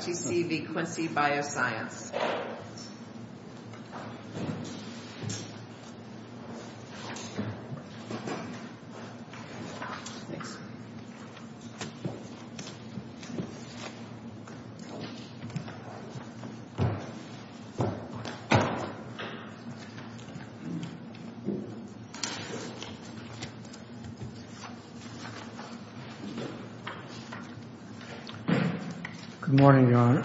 QCV Quincy Bioscience Good morning, Your Honor.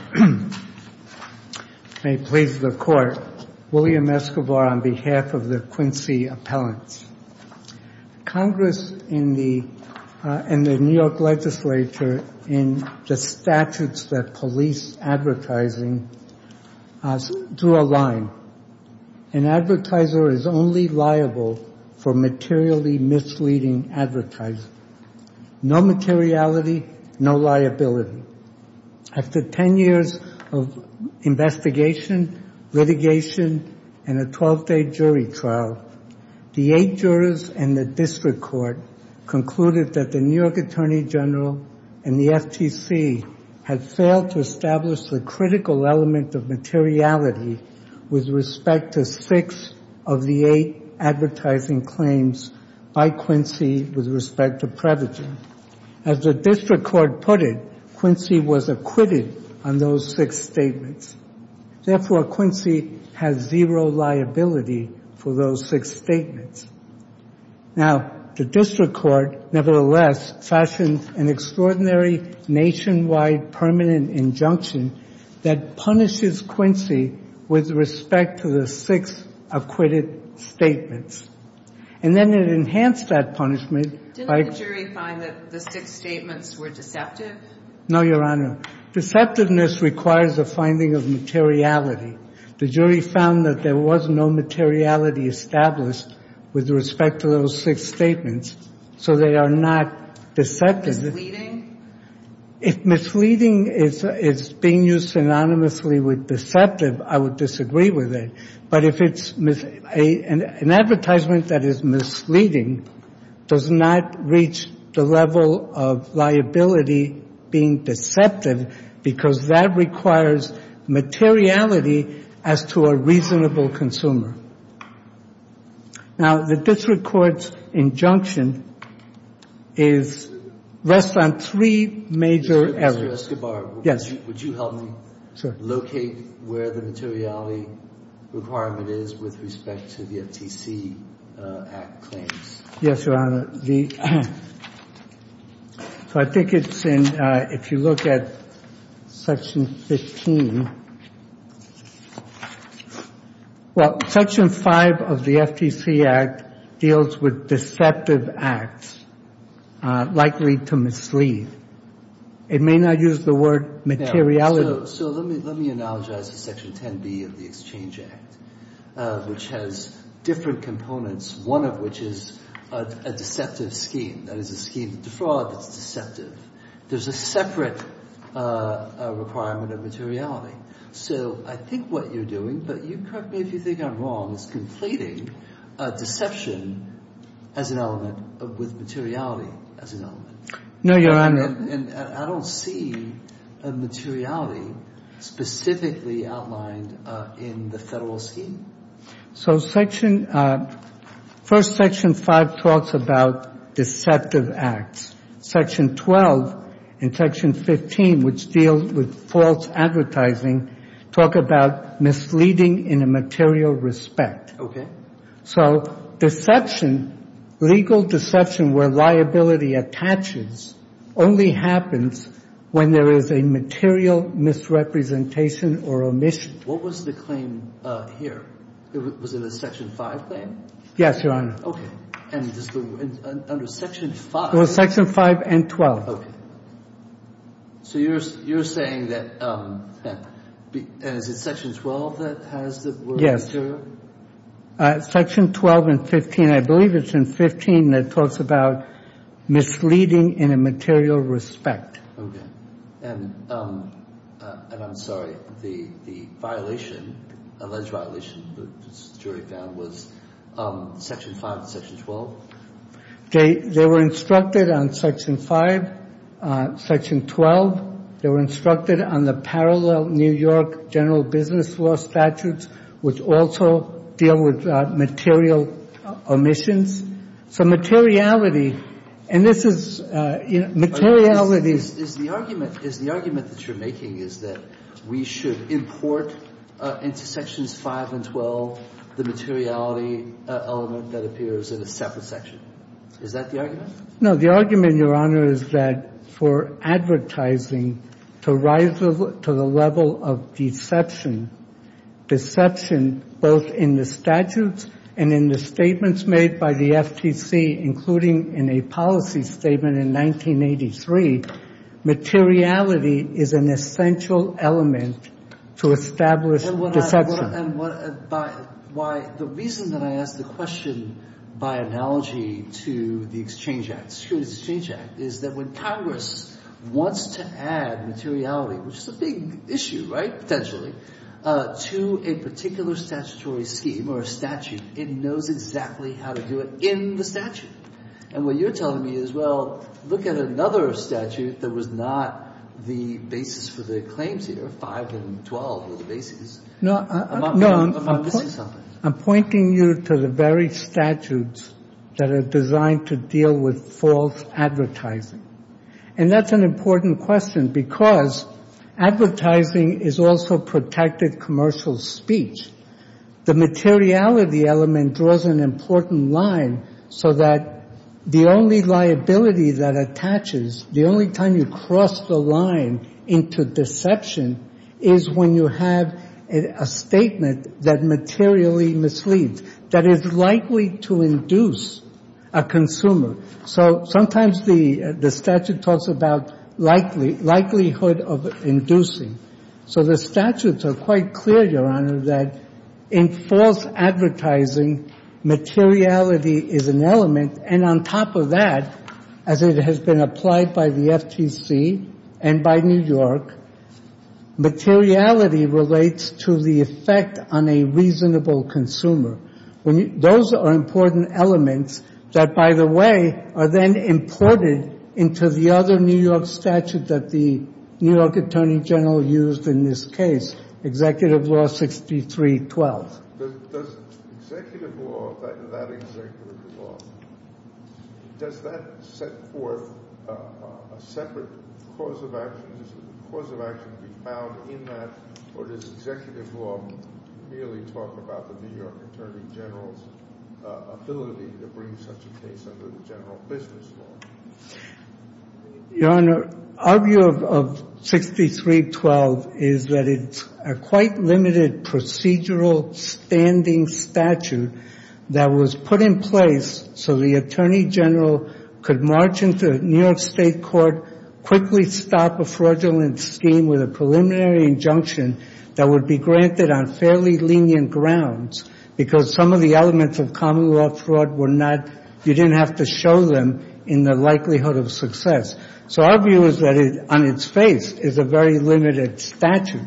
I please the Court. William Escobar on behalf of the Quincy appellants. Congress and the New York Legislature in the statutes that police advertising do align. An advertiser is only liable for materially misleading advertising. No materiality, no liability. After 10 years of investigation, litigation, and a 12-day jury trial, the eight jurors and the district court concluded that the New York Attorney General and the FTC had failed to establish a critical element of materiality with respect to six of the eight advertising claims by Quincy with respect to privacy. As the district court put it, Quincy was acquitted on those six statements. Therefore, Quincy has zero liability for those six statements. Now, the district court, nevertheless, fashioned an extraordinary nationwide permanent injunction that punishes Quincy with respect to the six acquitted statements. And then it enhanced that punishment by... Didn't the jury find that the six statements were deceptive? No, Your Honor. Deceptiveness requires a finding of materiality. The jury found that there was no materiality established with respect to those six statements, so they are not deceptive. If misleading is being used synonymously with deceptive, I would disagree with it. But an advertisement that is misleading does not reach the level of liability being deceptive because that requires materiality as to a reasonable consumer. Now, the district court's injunction rests on three major areas. Mr. Escobar, would you help me locate where the materiality requirement is with respect to the FTC Act claims? Yes, Your Honor. So I think it's in, if you look at Section 15. Well, Section 5 of the FTC Act deals with deceptive acts, likely to mislead. It may not use the word materiality. So let me acknowledge that it's Section 10B of the Exchange Act, which has different components, one of which is a deceptive scheme. That is a scheme, the fraud is deceptive. There's a separate requirement of materiality. So I think what you're doing, but correct me if you think I'm wrong, is completing deception as an element with materiality as an element. No, Your Honor. And I don't see a materiality specifically outlined in the federal scheme. So Section, first Section 5 talks about deceptive acts. Section 12 and Section 15, which deals with false advertising, talk about misleading in a material respect. Okay. So deception, legal deception where liability attaches, only happens when there is a material misrepresentation or omission. What was the claim here? Was it a Section 5 claim? Yes, Your Honor. Okay. And under Section 5? It was Section 5 and 12. Okay. So you're saying that the Section 12 has the word material? Section 12 and 15, I believe it's in 15, that talks about misleading in a material respect. Okay. And I'm sorry, the violation, alleged violation the jury found, was Section 5 and Section 12? They were instructed on Section 5, Section 12. They were instructed on the parallel New York general business law statutes, which also deal with material omissions. So materiality, and this is materiality. The argument that you're making is that we should import into Sections 5 and 12 the materiality element that appears in a separate section. Is that the argument? No, the argument, Your Honor, is that for advertising to rise to the level of deception, deception both in the statutes and in the statements made by the FTC, including in a policy statement in 1983, materiality is an essential element to establish deception. And the reason that I ask the question by analogy to the Exchange Act, excuse me, the Exchange Act, is that when Congress wants to add materiality, which is a big issue, right, potentially, to a particular statutory scheme or a statute, it knows exactly how to do it in the statute. And what you're telling me is, well, look at another statute that was not the basis for the claims here, 5 and 12 were the basis. No, I'm pointing you to the very statutes that are designed to deal with false advertising. And that's an important question because advertising is also protected commercial speech. The materiality element draws an important line so that the only liability that attaches, the only time you cross the line into deception is when you have a statement that materially misleads, that is likely to induce a consumer. So sometimes the statute talks about likelihood of inducing. So the statutes are quite clear, Your Honor, that in false advertising, materiality is an element. And on top of that, as it has been applied by the FTC and by New York, materiality relates to the effect on a reasonable consumer. Those are important elements that, by the way, are then imported into the other New York statute that the New York Attorney General used in this case, Executive Law 6312. Does Executive Law, that Executive Law, does that set forth a separate cause of action? Does a cause of action be found in that? Or does Executive Law merely talk about the New York Attorney General's ability to bring such a case under the general business law? Your Honor, our view of 6312 is that it's a quite limited procedural standing statute that was put in place so the Attorney General could march into New York State court, quickly stop a fraudulent scheme with a preliminary injunction that would be granted on fairly lenient grounds because some of the elements of common law fraud were not, you didn't have to show them in the likelihood of success. So our view is that it, on its face, is a very limited statute.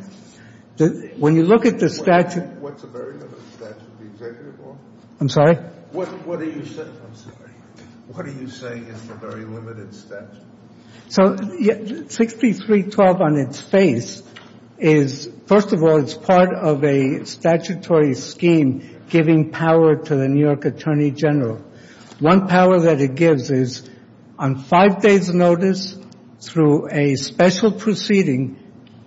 When you look at the statute... What's a very limited statute? I'm sorry? What are you saying is a very limited statute? So, 6312 on its face is, first of all, it's part of a statutory scheme giving power to the New York Attorney General. One power that it gives is on five days' notice, through a special proceeding,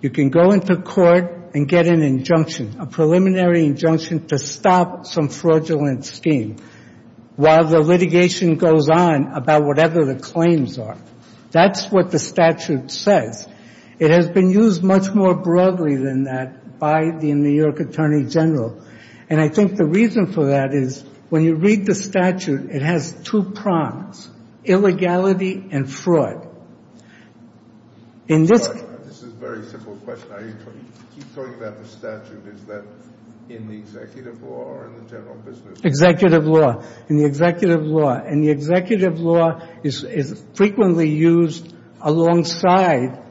you can go into court and get an injunction, a preliminary injunction to stop some fraudulent scheme while the litigation goes on about whatever the claims are. That's what the statute says. It has been used much more broadly than that by the New York Attorney General. And I think the reason for that is when you read the statute, it has two prongs, illegality and fraud. In this case... This is a very simple question. He's talking about the statute. Is that in the executive law or in the general business law? Executive law. In the executive law. And the executive law is frequently used alongside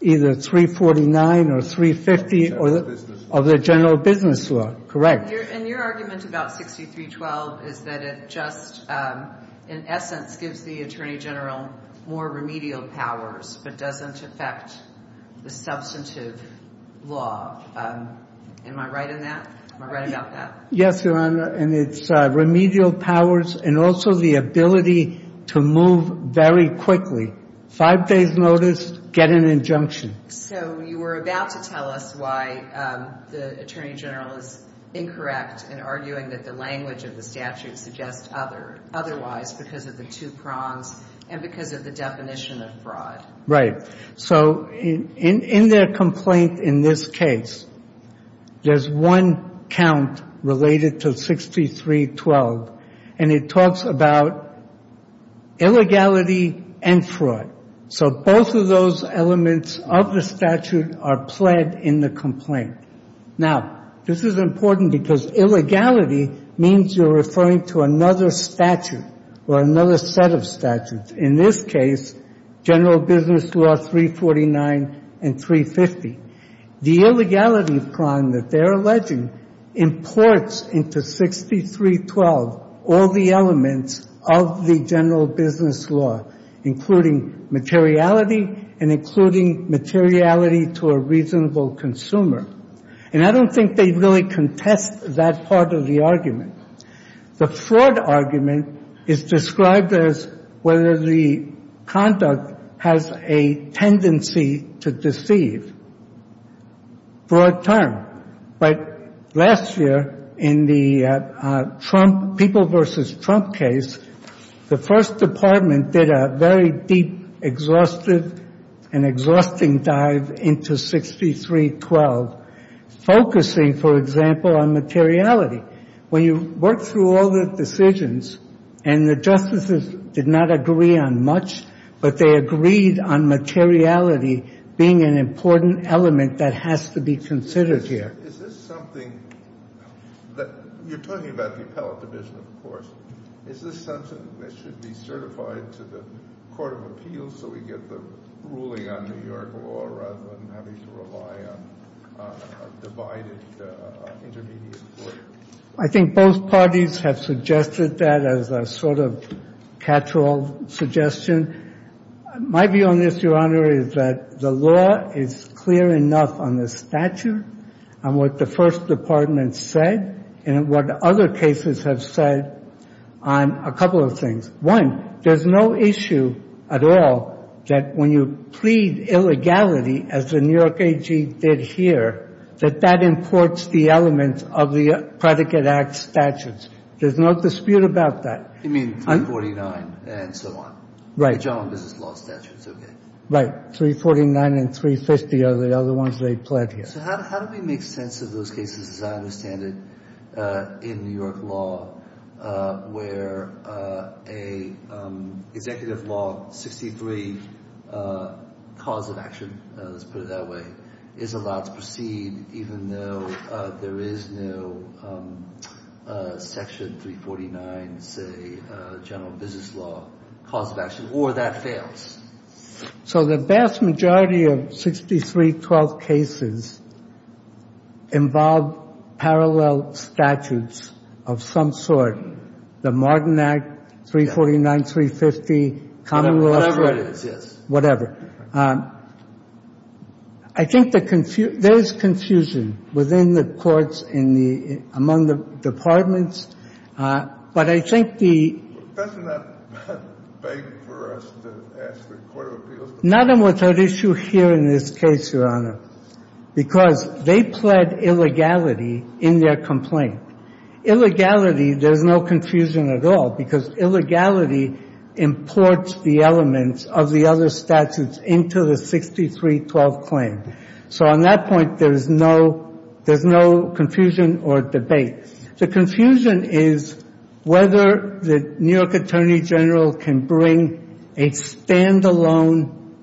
either 349 or 350 or the general business law. Correct. And your argument about 6312 is that it just, in essence, gives the Attorney General more remedial powers but doesn't affect the substantive law. Am I right in that? Am I right about that? Yes, Your Honor, and it's remedial powers and also the ability to move very quickly. Five days' notice, get an injunction. So you were about to tell us why the Attorney General is incorrect in arguing that the language of the statute suggests otherwise because of the two prongs and because of the definition of fraud. Right. So in their complaint in this case, there's one count related to 6312, and it talks about illegality and fraud. So both of those elements of the statute are pled in the complaint. Now, this is important because illegality means you're referring to another statute or another set of statutes. In this case, general business law 349 and 350. The illegality prong that they're alleging imports into 6312 all the elements of the general business law, including materiality and including materiality to a reasonable consumer. And I don't think they really contest that part of the argument. The fraud argument is described as whether the conduct has a tendency to deceive. Broad term. But last year in the Trump, People v. Trump case, the first department did a very deep, exhaustive and exhausting dive into 6312, focusing, for example, on materiality. When you work through all the decisions and the justices did not agree on much, but they agreed on materiality being an important element that has to be considered here. Is this something that you're talking about Is this something that should be certified to the Court of Appeals so we get the ruling on New York law rather than having to rely on a divided intermediate court? I think both parties have suggested that as a sort of catch-all suggestion. My view on this, Your Honor, is that the law is clear enough on the statute and what the first department said and what other cases have said on a couple of things. One, there's no issue at all that when you plead illegality as the New York AG did here, that that imports the elements of the Predicate Act statutes. There's no dispute about that. You mean 349 and so on? Right. The general business law statutes, okay. Right, 349 and 350 are the other ones they pled here. So how do we make sense of those cases as I understand it in New York law where an executive law, 63, cause of action, let's put it that way, is allowed to proceed even though there is no Section 349, say, general business law cause of action, or that fails? So the vast majority of 6312 cases involve parallel statutes of some sort. The Martin Act, 349, 350, Commonwealth... Whatever it is, yes. Whatever. I think there is confusion within the courts among the departments, but I think the... Doesn't that beg for us to ask for court appeals? Nothing was at issue here in this case, Your Honor, because they pled illegality in their complaint. Illegality, there's no confusion at all because illegality imports the elements of the other statutes into the 6312 claim. So on that point, there's no confusion or debate. The confusion is whether the New York Attorney General can bring a stand-alone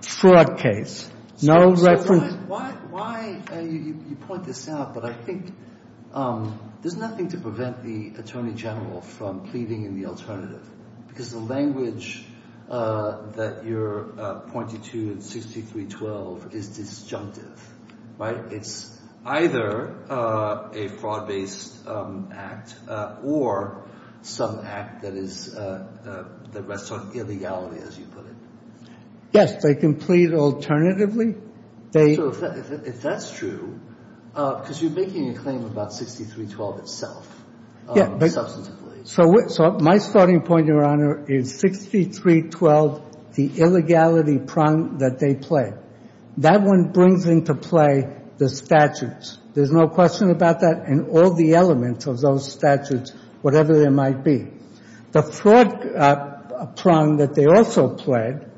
fraud case. No record... Why... You point this out, but I think there's nothing to prevent the Attorney General from pleading in the alternative because the language that you're pointing to in 6312 is disjunctive. Right? It's either a fraud-based act or some act that is... that rests on illegality, as you put it. Yes, they can plead alternatively. So if that's true, because you're making a claim about 6312 itself. Yeah, but... So my starting point, Your Honor, is 6312, the illegality prong that they pled. That one brings into play the statutes. There's no question about that and all the elements of those statutes, whatever they might be. The fraud prong that they also pled,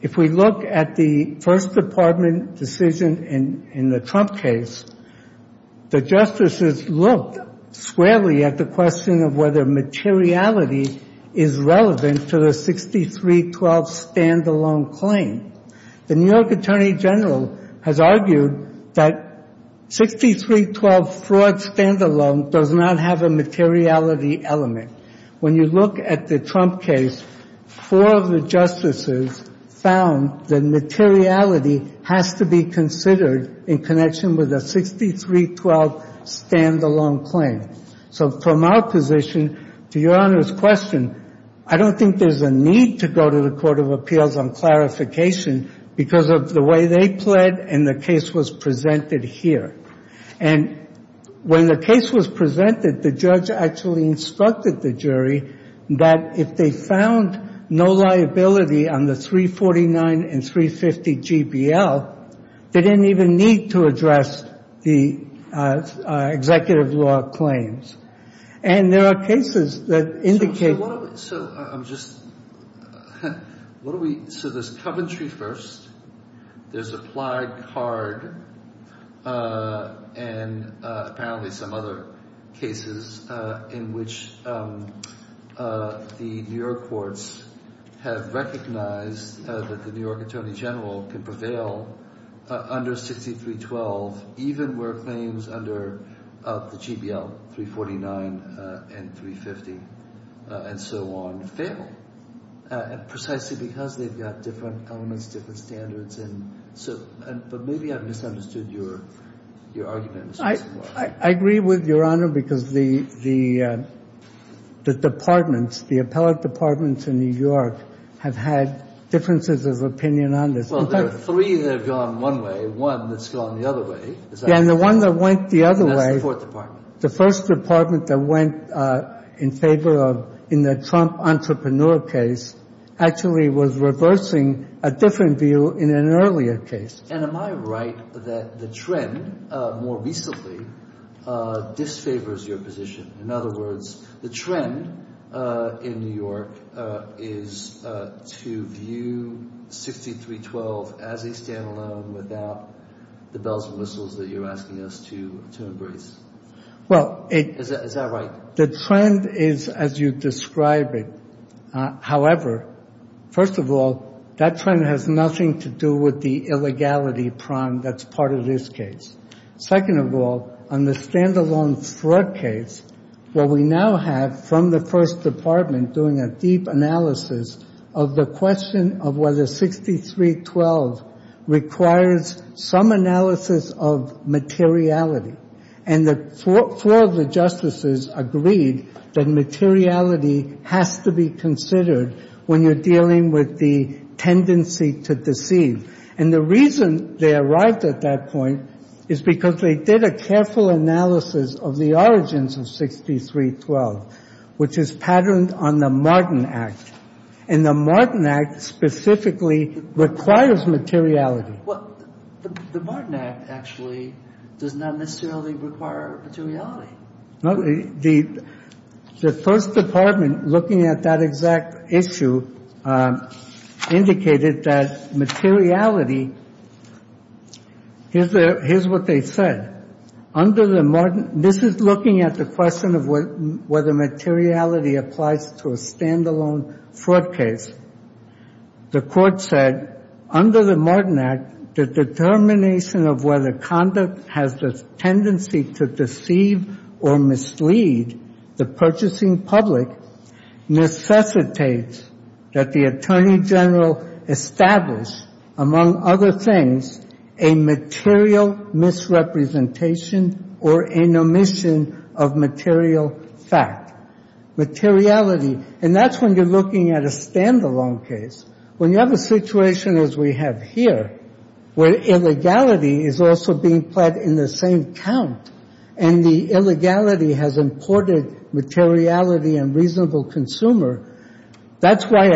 if we look at the First Department decision in the Trump case, the justices looked squarely at the question of whether materiality is relevant to the 6312 stand-alone claim. The New York Attorney General has argued that 6312 fraud stand-alone does not have a materiality element. When you look at the Trump case, four of the justices found that materiality has to be considered in connection with a 6312 stand-alone claim. So from our position, to Your Honor's question, I don't think there's a need to go to the Court of Appeals on clarification because of the way they pled and the case was presented here. And when the case was presented, the judge actually instructed the jury that if they found no liability on the 349 and 350 GBL, they didn't even need to address the executive law claims. And there are cases that indicate... So I'm just... What do we... So there's Coventry first, there's Applied, Hard, and apparently some other cases in which the New York courts have recognized that the New York Attorney General can prevail under 6312 even where claims under the GBL 349 and 350 and so on fail. Precisely because they've got different elements, different standards, but maybe I misunderstood your argument. I agree with Your Honor because the departments, the appellate departments in New York have had differences of opinion on this. Well, there are three that have gone one way, one that's gone the other way. Yeah, and the one that went the other way, the first department that went in favor of, in the Trump entrepreneur case, actually was reversing a different view in an earlier case. And am I right that the trend, more recently, disfavors your position? In other words, the trend in New York is to view 6312 as a stand-alone without the bells and whistles that you're asking us to embrace. Is that right? The trend is as you describe it. However, first of all, that trend has nothing to do with the illegality prong that's part of this case. Second of all, on the stand-alone fraud case, what we now have from the first department doing a deep analysis of the question of whether 6312 requires some analysis of materiality. And four of the justices agreed that materiality has to be considered when you're dealing with the tendency to deceive. And the reason they arrived at that point is because they did a careful analysis of the origins of 6312, which is patterned on the Martin Act. And the Martin Act specifically requires materiality. The Martin Act, actually, does not necessarily require materiality. The first department, looking at that exact issue, indicated that materiality is what they said. This is looking at the question of whether materiality applies to a stand-alone fraud case. The court said, under the Martin Act, the determination of whether conduct has a tendency to deceive or mislead the purchasing public necessitates that the attorney general establish, among other things, a material misrepresentation or omission of material fact. Materiality, and that's when you're looking at a stand-alone case. When you have a situation as we have here, where materiality is also being fed in the same count, and the illegality has imported materiality and reasonable consumer, that's why,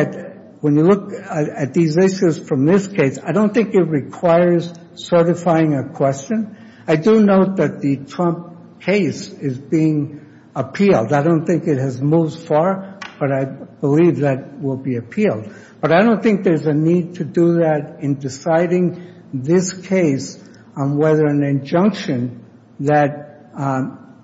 when you look at these issues from this case, I don't think it requires certifying a question. I do note that the Trump case is being appealed. I don't think it has moved far, but I believe that will be appealed. But I don't think there's a need to do that in deciding this case on whether an injunction that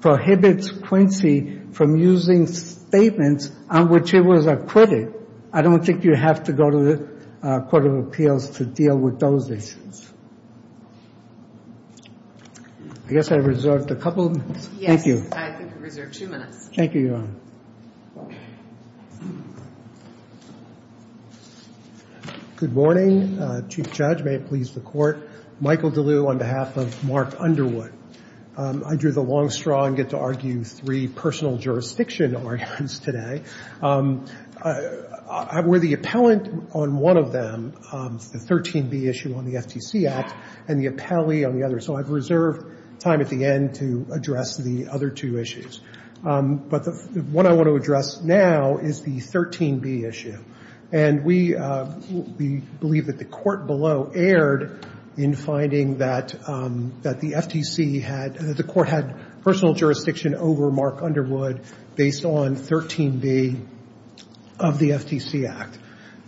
prohibits Quincy from using statements on which he was a critic. I don't think you have to go to the Court of Appeals to deal with those issues. I guess I reserved a couple. Thank you. Thank you. Thank you. Good morning. Chief Judge, may it please the Court, Michael DeLue on behalf of Mark Underwood. Under the long straw, I get to argue three personal jurisdiction arguments today. I'm worthy appellant on one of them, the 13B issue on the FTC Act, and the appellee on the other. So I've reserved time at the end to address the other two issues. But what I want to address now is the 13B issue. And we believe that the Court below erred in finding that the FTC had, the Court had personal jurisdiction over Mark Underwood based on 13B of the FTC Act.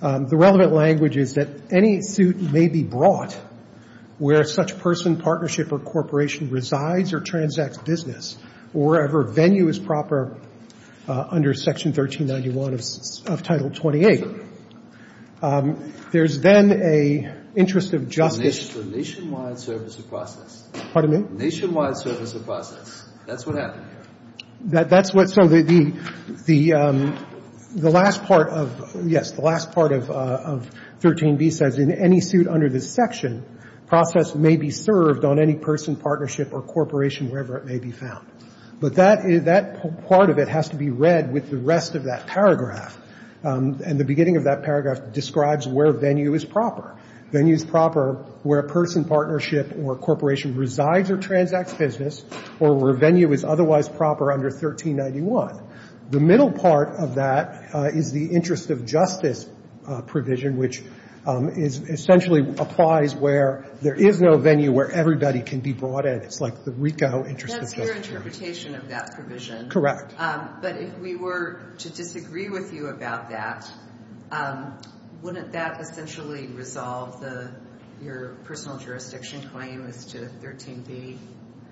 The relevant language is that any suit may be brought where such person, partnership, or corporation resides or transacts business, or wherever venue is proper under Section 1391 of Title 28. There's then an interest of justice. Nationwide services process. Nationwide services process. That's what happened. So the last part of, yes, the last part of 13B says in any suit under this section, process may be served on any person, partnership, or corporation, wherever it may be found. But that part of it has to be read with the rest of that paragraph. And the beginning of that paragraph describes where venue is proper. Venue is proper where a person, partnership, or corporation resides or transacts business, or where venue is otherwise proper under 1391. The middle part of that is the interest of justice provision, which essentially applies where there is no venue where everybody can be brought in. It's like the retail interest of justice. That's your interpretation of that provision. Correct. But if we were to disagree with you about that, wouldn't that essentially resolve your personal jurisdiction claim to 13B?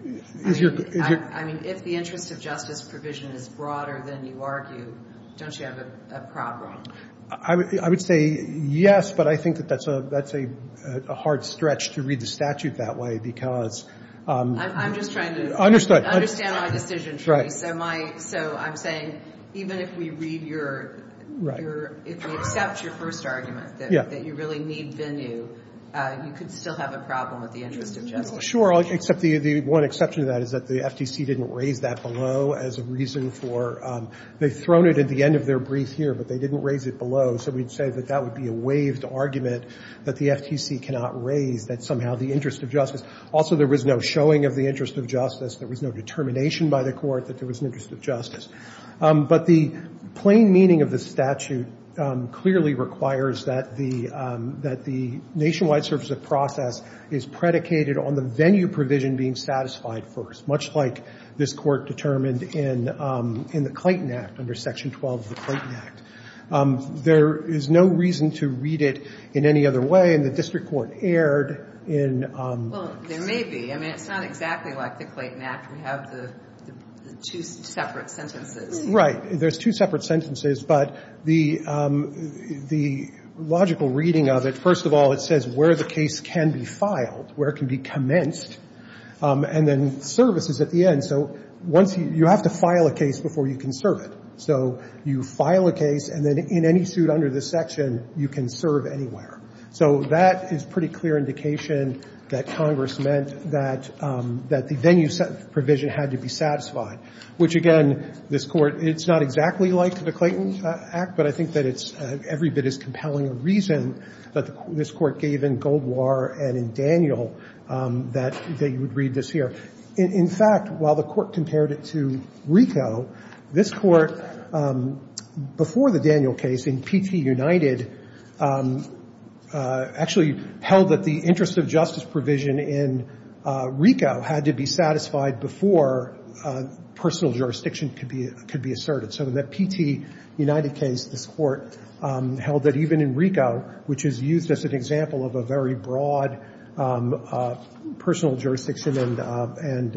I mean, if the interest of justice provision is broader than you argue, don't you have a problem? I would say yes, but I think that's a hard stretch to read the statute that way because I'm just trying to understand my decision. So I'm saying even if we read your if we accept your first argument that you really need venue, you could still have a problem with the interest of justice. Sure, except the one exception to that is that the FTC didn't raise that below as a reason for they've thrown it at the end of their brief year, but they didn't raise it below, so we'd say that that would be a waived argument that the FTC cannot raise that somehow the interest of justice. Also, there was no showing of the interest of justice. There was no determination by the court that there was an interest of justice. But the plain meaning of the statute clearly requires that the nationwide service of process is predicated on the venue provision being satisfied first, much like this court determined in the Clayton Act under Section 12 of the Clayton Act. There is no reason to read it in any other way and the district court erred in Well, there may be. I mean it's not exactly like the Clayton Act. We have the two separate sentences. Right. There's two separate sentences, but the the logical reading of it, first of all, it says where the case can be filed, where it can be commenced, and then you have to file a case before you can serve it. So you file a case and then in any suit under this section, you can serve anywhere. So that is pretty clear indication that Congress meant that the venue provision had to be satisfied. Which again, this court it's not exactly like the Clayton Act, but I think that it's every bit as compelling a reason that this court gave in Goldwar and in Daniel that they would read this here. In fact, while the court compared it to RICO, this court before the Daniel case in P.T. United actually held that the interest of justice provision in RICO had to be satisfied before personal jurisdiction could be asserted. So that P.T. United case, the court held that even in RICO, which is used as an example of a very broad personal jurisdiction and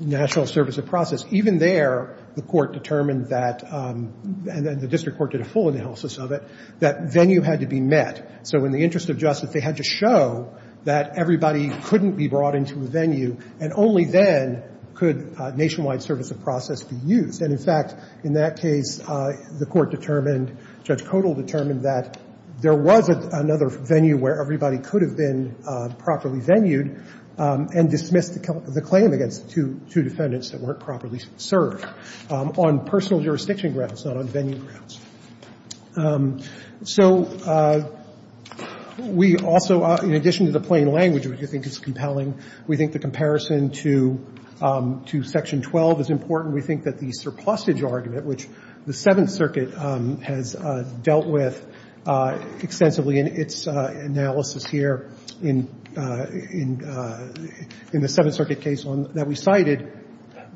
national service of process, even there the court determined that and the district court did a full analysis of it, that venue had to be met. So in the interest of justice, they had to show that everybody couldn't be brought into the venue and only then could nationwide service of process be used. And in fact in that case, the court determined, Judge Codall determined that there was another venue where everybody could have been properly venued and dismissed the claim against two defendants that weren't properly served on personal jurisdiction grounds, not on venue grounds. So we also in addition to the plain language, which I think is compelling, we think the comparison to section 12 is important. We think that the surplusage argument, which the Seventh Circuit has dealt with extensively in its analysis here in the Seventh Circuit case that we cited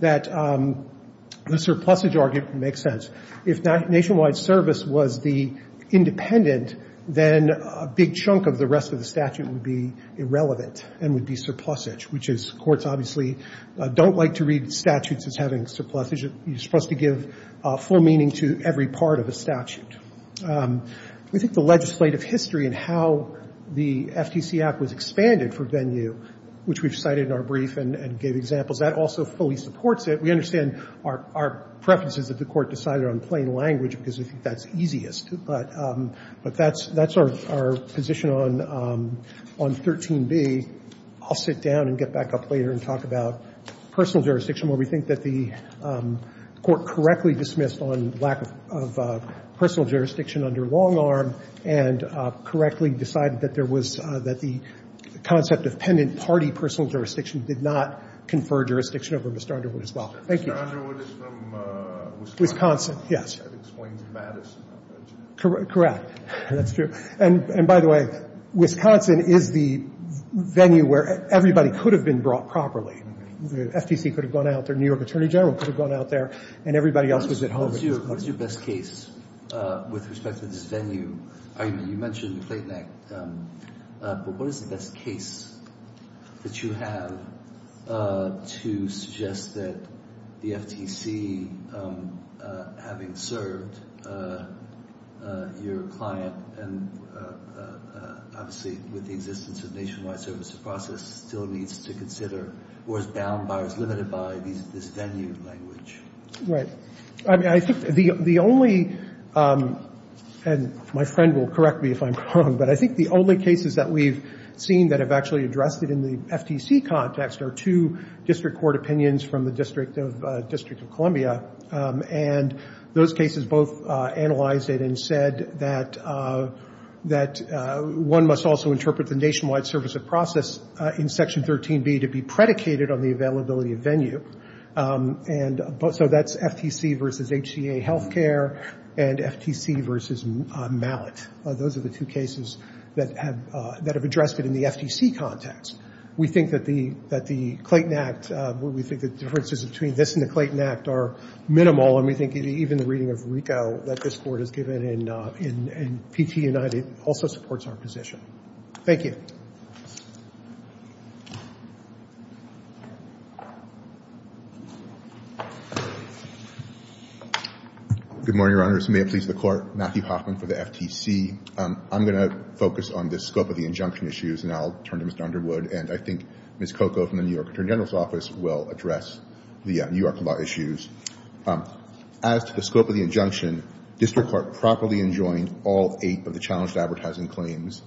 that the surplusage argument makes sense. If that nationwide service was the independent, then a big chunk of the rest of the statute would be irrelevant and would be surplusage, which is courts obviously don't like to read statutes as having surplusage. You're supposed to give full meaning to every part of the statute. We think the legislative history and how the FTC Act was expanded for venue, which we've cited in our brief and gave examples, that also fully supports it. We understand our preferences that the court decided on plain language because that's easiest. But that's our position on 13b. I'll sit down and get back up later and talk about personal jurisdiction where we think that the court correctly dismissed on lack of personal jurisdiction under long arm and correctly decided that the concept of pendant party personal jurisdiction did not confer jurisdiction over Mr. Underwood as well. Mr. Underwood is from Wisconsin. That's true. By the way, Wisconsin is the venue where everybody could have been brought properly. The FTC could have gone out. The New York What is your best case with respect to this venue? You mentioned the Slaten Act. What is the best case that you have to suggest that the FTC having served your client and obviously with the existence of Nationwide Service Process still needs to consider or is bound by or is limited by this venue Right. The only and my friend will correct me if I'm wrong, but I think the only cases that we've seen that have actually addressed it in the FTC context are two district court opinions from the District of Columbia and those cases both analyzed it and said that one must also interpret the Nationwide Service Process in Section 13b to be predicated on the availability of venue and so that's FTC versus HCA Healthcare and FTC versus Mallet. Those are the two cases that have addressed it in the FTC context. We think that the Clayton Act, we think the differences between this and the Clayton Act are minimal and we think even the reading of RICO that this court has given in PT United also supports our position. Thank you. Good morning, Your Honor. May it please the Court. Matthew Hoffman for the FTC. I'm going to focus on the scope of the injunction issues and I'll turn to Ms. Dunderwood and I think Ms. Coco from the New York Attorney General's Office will address the New York law issues. As to the scope of the injunction, District Court properly enjoined all eight of the challenged advertising claims.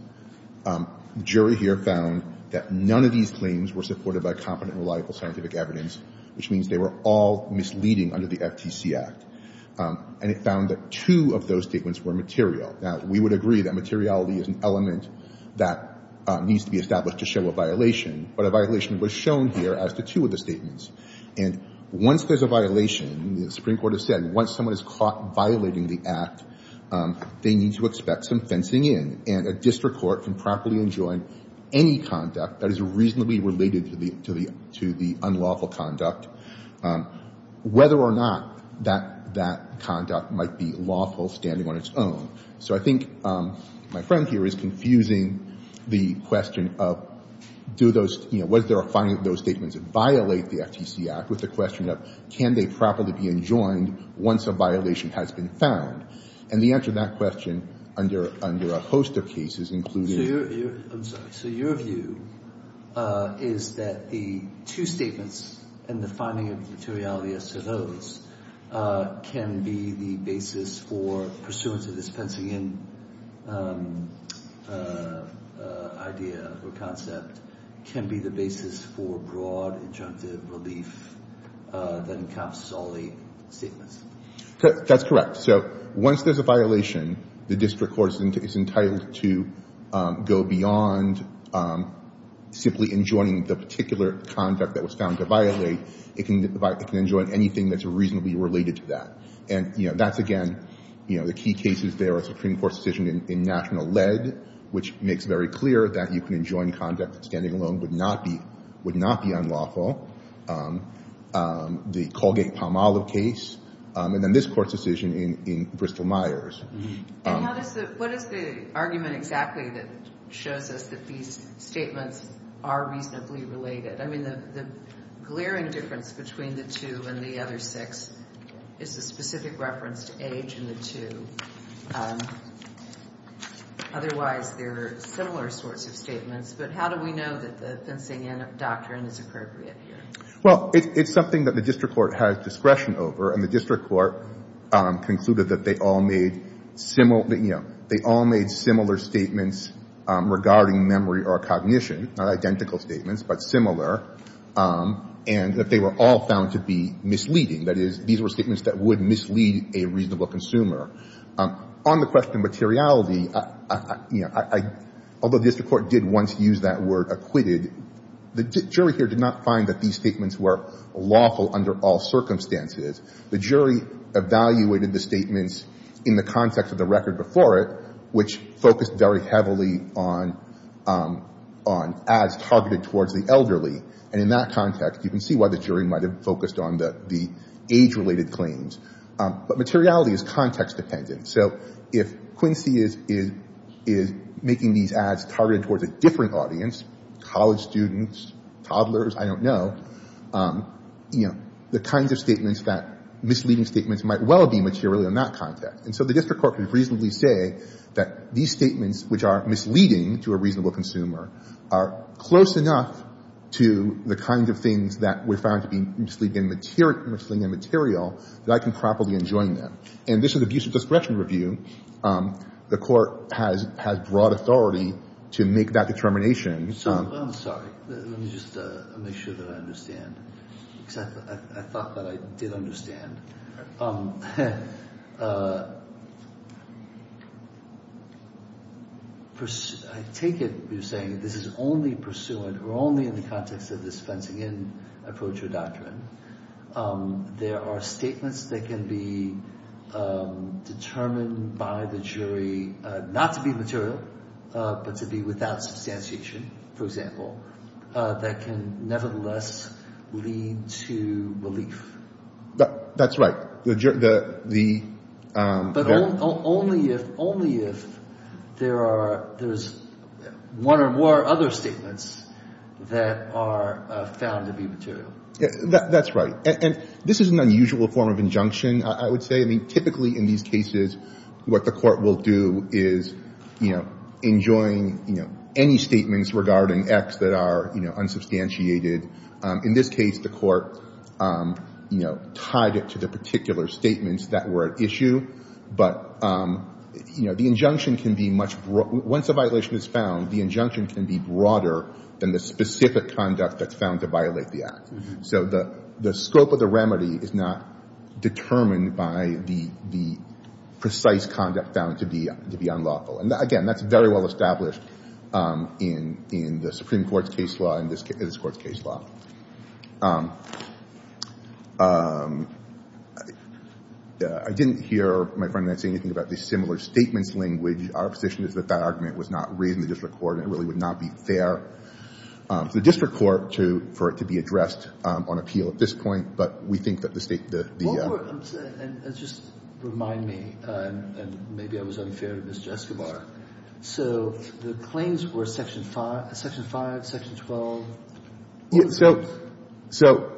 The jury here found that none of these claims were supported by competent and reliable scientific evidence which means they were all misleading under the FTC Act. And it found that two of those statements were material. Now, we would agree that materiality is an element that needs to be established to show a violation but a violation was shown here as the two of the statements. Once there's a violation, the Supreme Court has said, once someone is caught violating the Act, they need to expect some fencing in and a District Court can properly enjoin any conduct that is reasonably related to the unlawful conduct whether or not that conduct might be lawful standing on its own. So I think my friend here is confusing the question of was there a finding of those statements that violate the FTC Act with the question of can they properly be enjoined once a violation has been found? And the answer to that question under a host of cases including... So your view is that the two statements and the finding of materiality as to those can be the basis for pursuant to this fencing in idea or concept can be the basis for broad injunctive relief that encompasses all the statements. That's correct. So once there's a violation, the District Court is entitled to go beyond simply enjoining the particular conduct that was found to violate it can enjoin anything that's reasonably related to that. Again, the key cases there are Supreme Court's decision in National Lead which makes very clear that you can enjoin conduct standing alone would not be unlawful. The Colgate-Palmolive case and then this Court's decision in Bristol-Myers. What is the argument exactly that shows us that these statements are reasonably related? The glaring difference between the two and the other six is the specific reference to age in the two. Otherwise there are similar sorts of statements but how do we know that the fencing in doctrine is appropriate? It's something that the District Court has discretion over and the District Court concluded that they all made similar statements regarding memory or cognition, not identical statements but similar and that they were all found to be misleading. That is, these were statements that would mislead a reasonable consumer. On the question of materiality although the District Court did once use that word acquitted, the jury here did not find that these statements were lawful under all circumstances. The jury evaluated the statements in the context of the record before it which focused very heavily on ads targeted towards the elderly and in that context you can see why the jury might have focused on the age-related claims but materiality is context dependent so if Quincy is making these ads targeted towards a different audience college students, toddlers I don't know the kinds of statements that misleading statements might well be material in that context and so the District Court can reasonably say that these statements which are misleading to a reasonable consumer are close enough to the kinds of things that were found to be misleading material that I can properly enjoin them. And this is an abuse of discretion review. The court has broad authority to make that determination. I'm sorry let me just make sure that I understand I thought that I did understand I take it you're saying this is only pursuant or only in the context of this Fentonian approach or doctrine there are statements that can be determined by the jury not to be material but to be without substantiation for example that can nevertheless lead to relief. That's right the but only if only if there are there's one or more other statements that are found to be material that's right and this is an unusual form of injunction I would say I mean typically in these cases what the court will do is enjoin any statements regarding acts that are unsubstantiated in this case the court tied it to the particular statements that were at issue but the injunction can be much once a violation is found the injunction can be broader than the specific conduct that's found to violate the act so the scope of the remedy is not determined by the precise conduct found to be unlawful and again that's very well established in the Supreme Court's case law and this court's case law I didn't hear my friend say anything about the similar statement language our position is that that argument was not raised in the district court and it really would not be fair for the district court for it to be addressed on appeal at this point but we think that the state the just remind me unfair to Mr. Escobar so the claims were section 5, section 12 so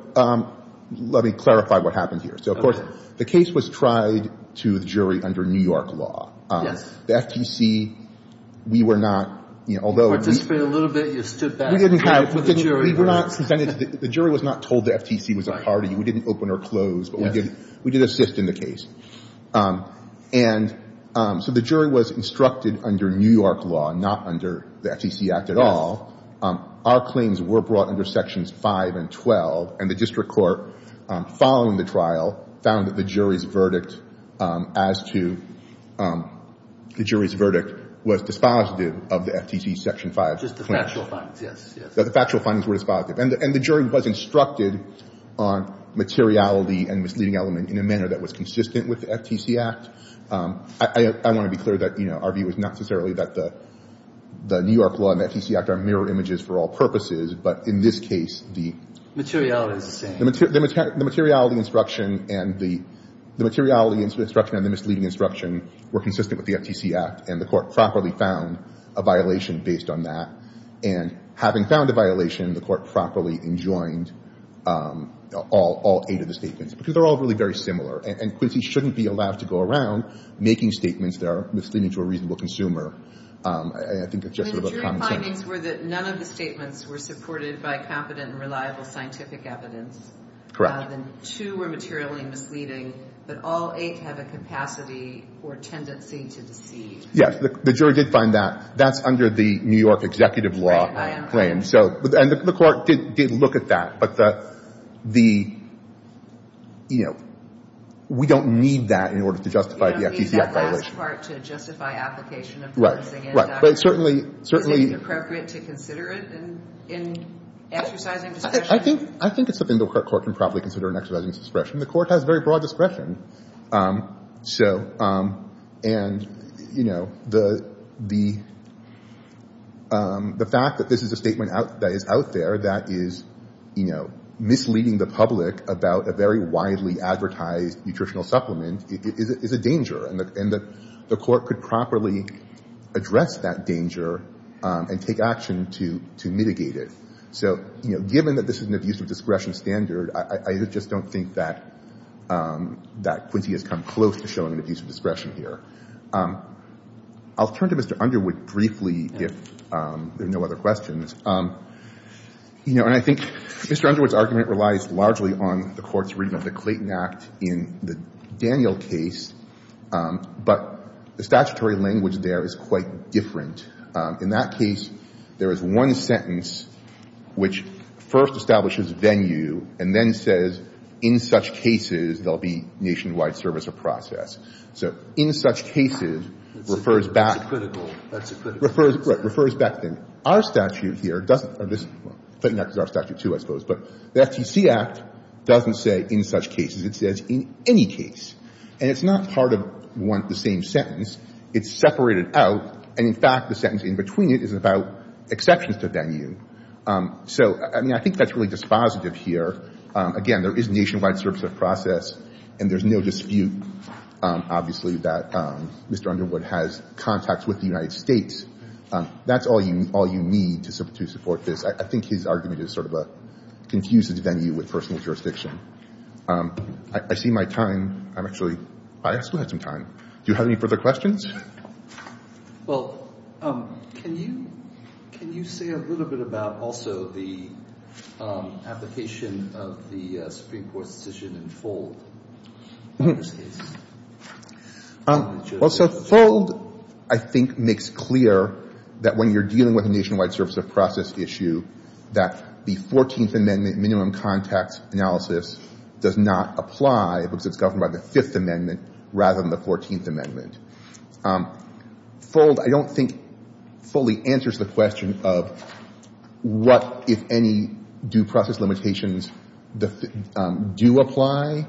let me clarify what happened here so of course the case was tried to the jury under New York law the FTC we were not you know although we didn't have prevented the jury was not told that FTC was a party we didn't open or close we did assist in the case and so the jury was instructed under New York law not under the FTC act at all our claims were brought under sections 5 and 12 and the district court following the trial found that the jury's verdict as to the jury's verdict was dispositive of the FTC section 5 the factual findings were dispositive and the jury was instructed on materiality and misleading element in a manner that was consistent with the FTC act I want to be clear that our view is not necessarily that the New York law and the FTC act are mirror images for all purposes but in this case the materiality instruction the materiality instruction and the materiality instruction and the misleading instruction were consistent with the FTC act and the court properly found a violation based on that and having found a violation the court properly enjoined all eight of the statements because they're all really very similar and Quincy shouldn't be allowed to go around making statements that are misleading to a reasonable consumer the jury findings were that none of the statements were supported by competent and reliable scientific evidence two were materially misleading but all eight have a capacity or tendency to deceive yes the jury did find that that's under the New York executive law and the court did look at that but the you know we don't need that in order to justify the FTC act violation we don't need that part to justify application of policing is it inappropriate to consider it in exercising discretion I think it's something the court can probably consider in exercising discretion the court has very broad discretion so and you know the the fact that this is a statement that is out there that is you know misleading the public about a very widely advertised nutritional supplement is a danger and the court could properly address that danger and take action to mitigate it so given that this is a discretion standard I just don't think that that Quincy has come close to showing that he's a discretion here I'll turn to Mr. Underwood briefly if there are no other questions you know and I think Mr. Underwood's argument relies largely on the court's reading of the Clayton Act in the Daniel case but the statutory language there is quite different in that case there is one sentence which first establishes a venue and then says in such cases there will be nationwide service of process so in such cases refers back to refers back to our statute here the FTC Act doesn't say in such cases it says in any case and it's not part of the same sentence it's separated out and in fact the sentence in between it is about exceptions to venue so I mean I think that's really dispositive here again there is nationwide service of process and there's no dispute obviously that Mr. Underwood has contacts with the United States that's all you need to support this I think his argument is sort of a confused venue with personal jurisdiction I see my time I actually have some time do you have any further questions? Well can you say a little bit about also the application of the Supreme Court decision in Fold? Well so Fold I think makes clear that when you're dealing with a nationwide service of process issue that the 14th amendment minimum contact analysis does not apply because it's talking about the 5th amendment rather than the 14th amendment Fold I don't think fully answers the question of what if any due process limitations do apply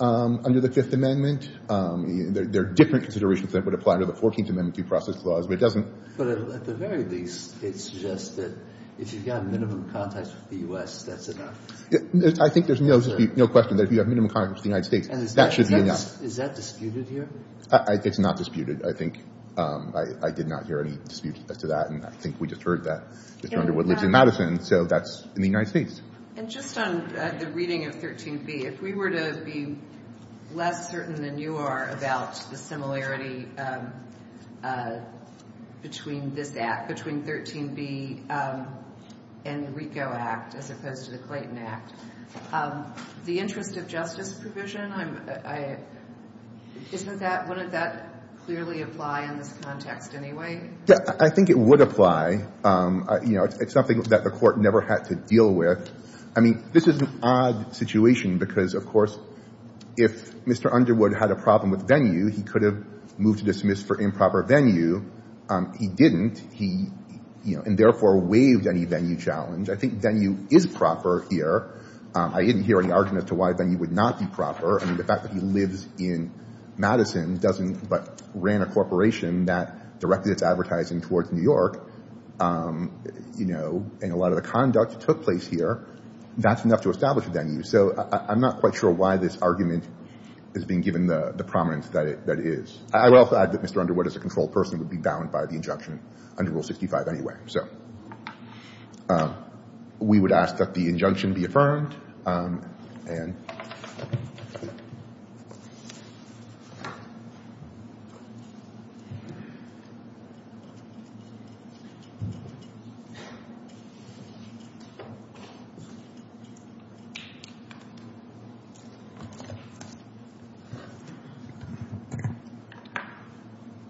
under the 5th amendment there are different considerations that would apply to the 14th amendment due process clause but it doesn't But at the very least it suggests that if you've got a minimum contact with the U.S. that's enough I think there's no question that if you have minimum contact with the United States that should be enough Is that disputed here? It's not disputed I think I did not hear any dispute as to that and I think we just heard that it's under what lives in Madison so that's in the United States And just on the reading of 13b if we were to be less certain than you are about the similarity between this act, between 13b and the Retail Act as opposed to the Clayton Act the interest of justice provision wouldn't that clearly apply in this context anyway? Yeah I think it would apply it's something that the court never had to deal with I mean this is an odd situation because of course if Mr. Underwood had a problem with venue he could have moved to dismiss for improper venue he didn't and therefore waived any venue challenge I think venue is proper here I didn't hear any argument as to why venue would not be proper. I mean the fact that he lives in Madison but ran a corporation that directly is advertising towards New York and a lot of the conduct took place here that's enough to establish a venue so I'm not quite sure why this argument is being given the prominence that it is. I would also add that Mr. Underwood as a controlled person would be bound by the injunction under Rule 65 anyway so we would ask that the injunction be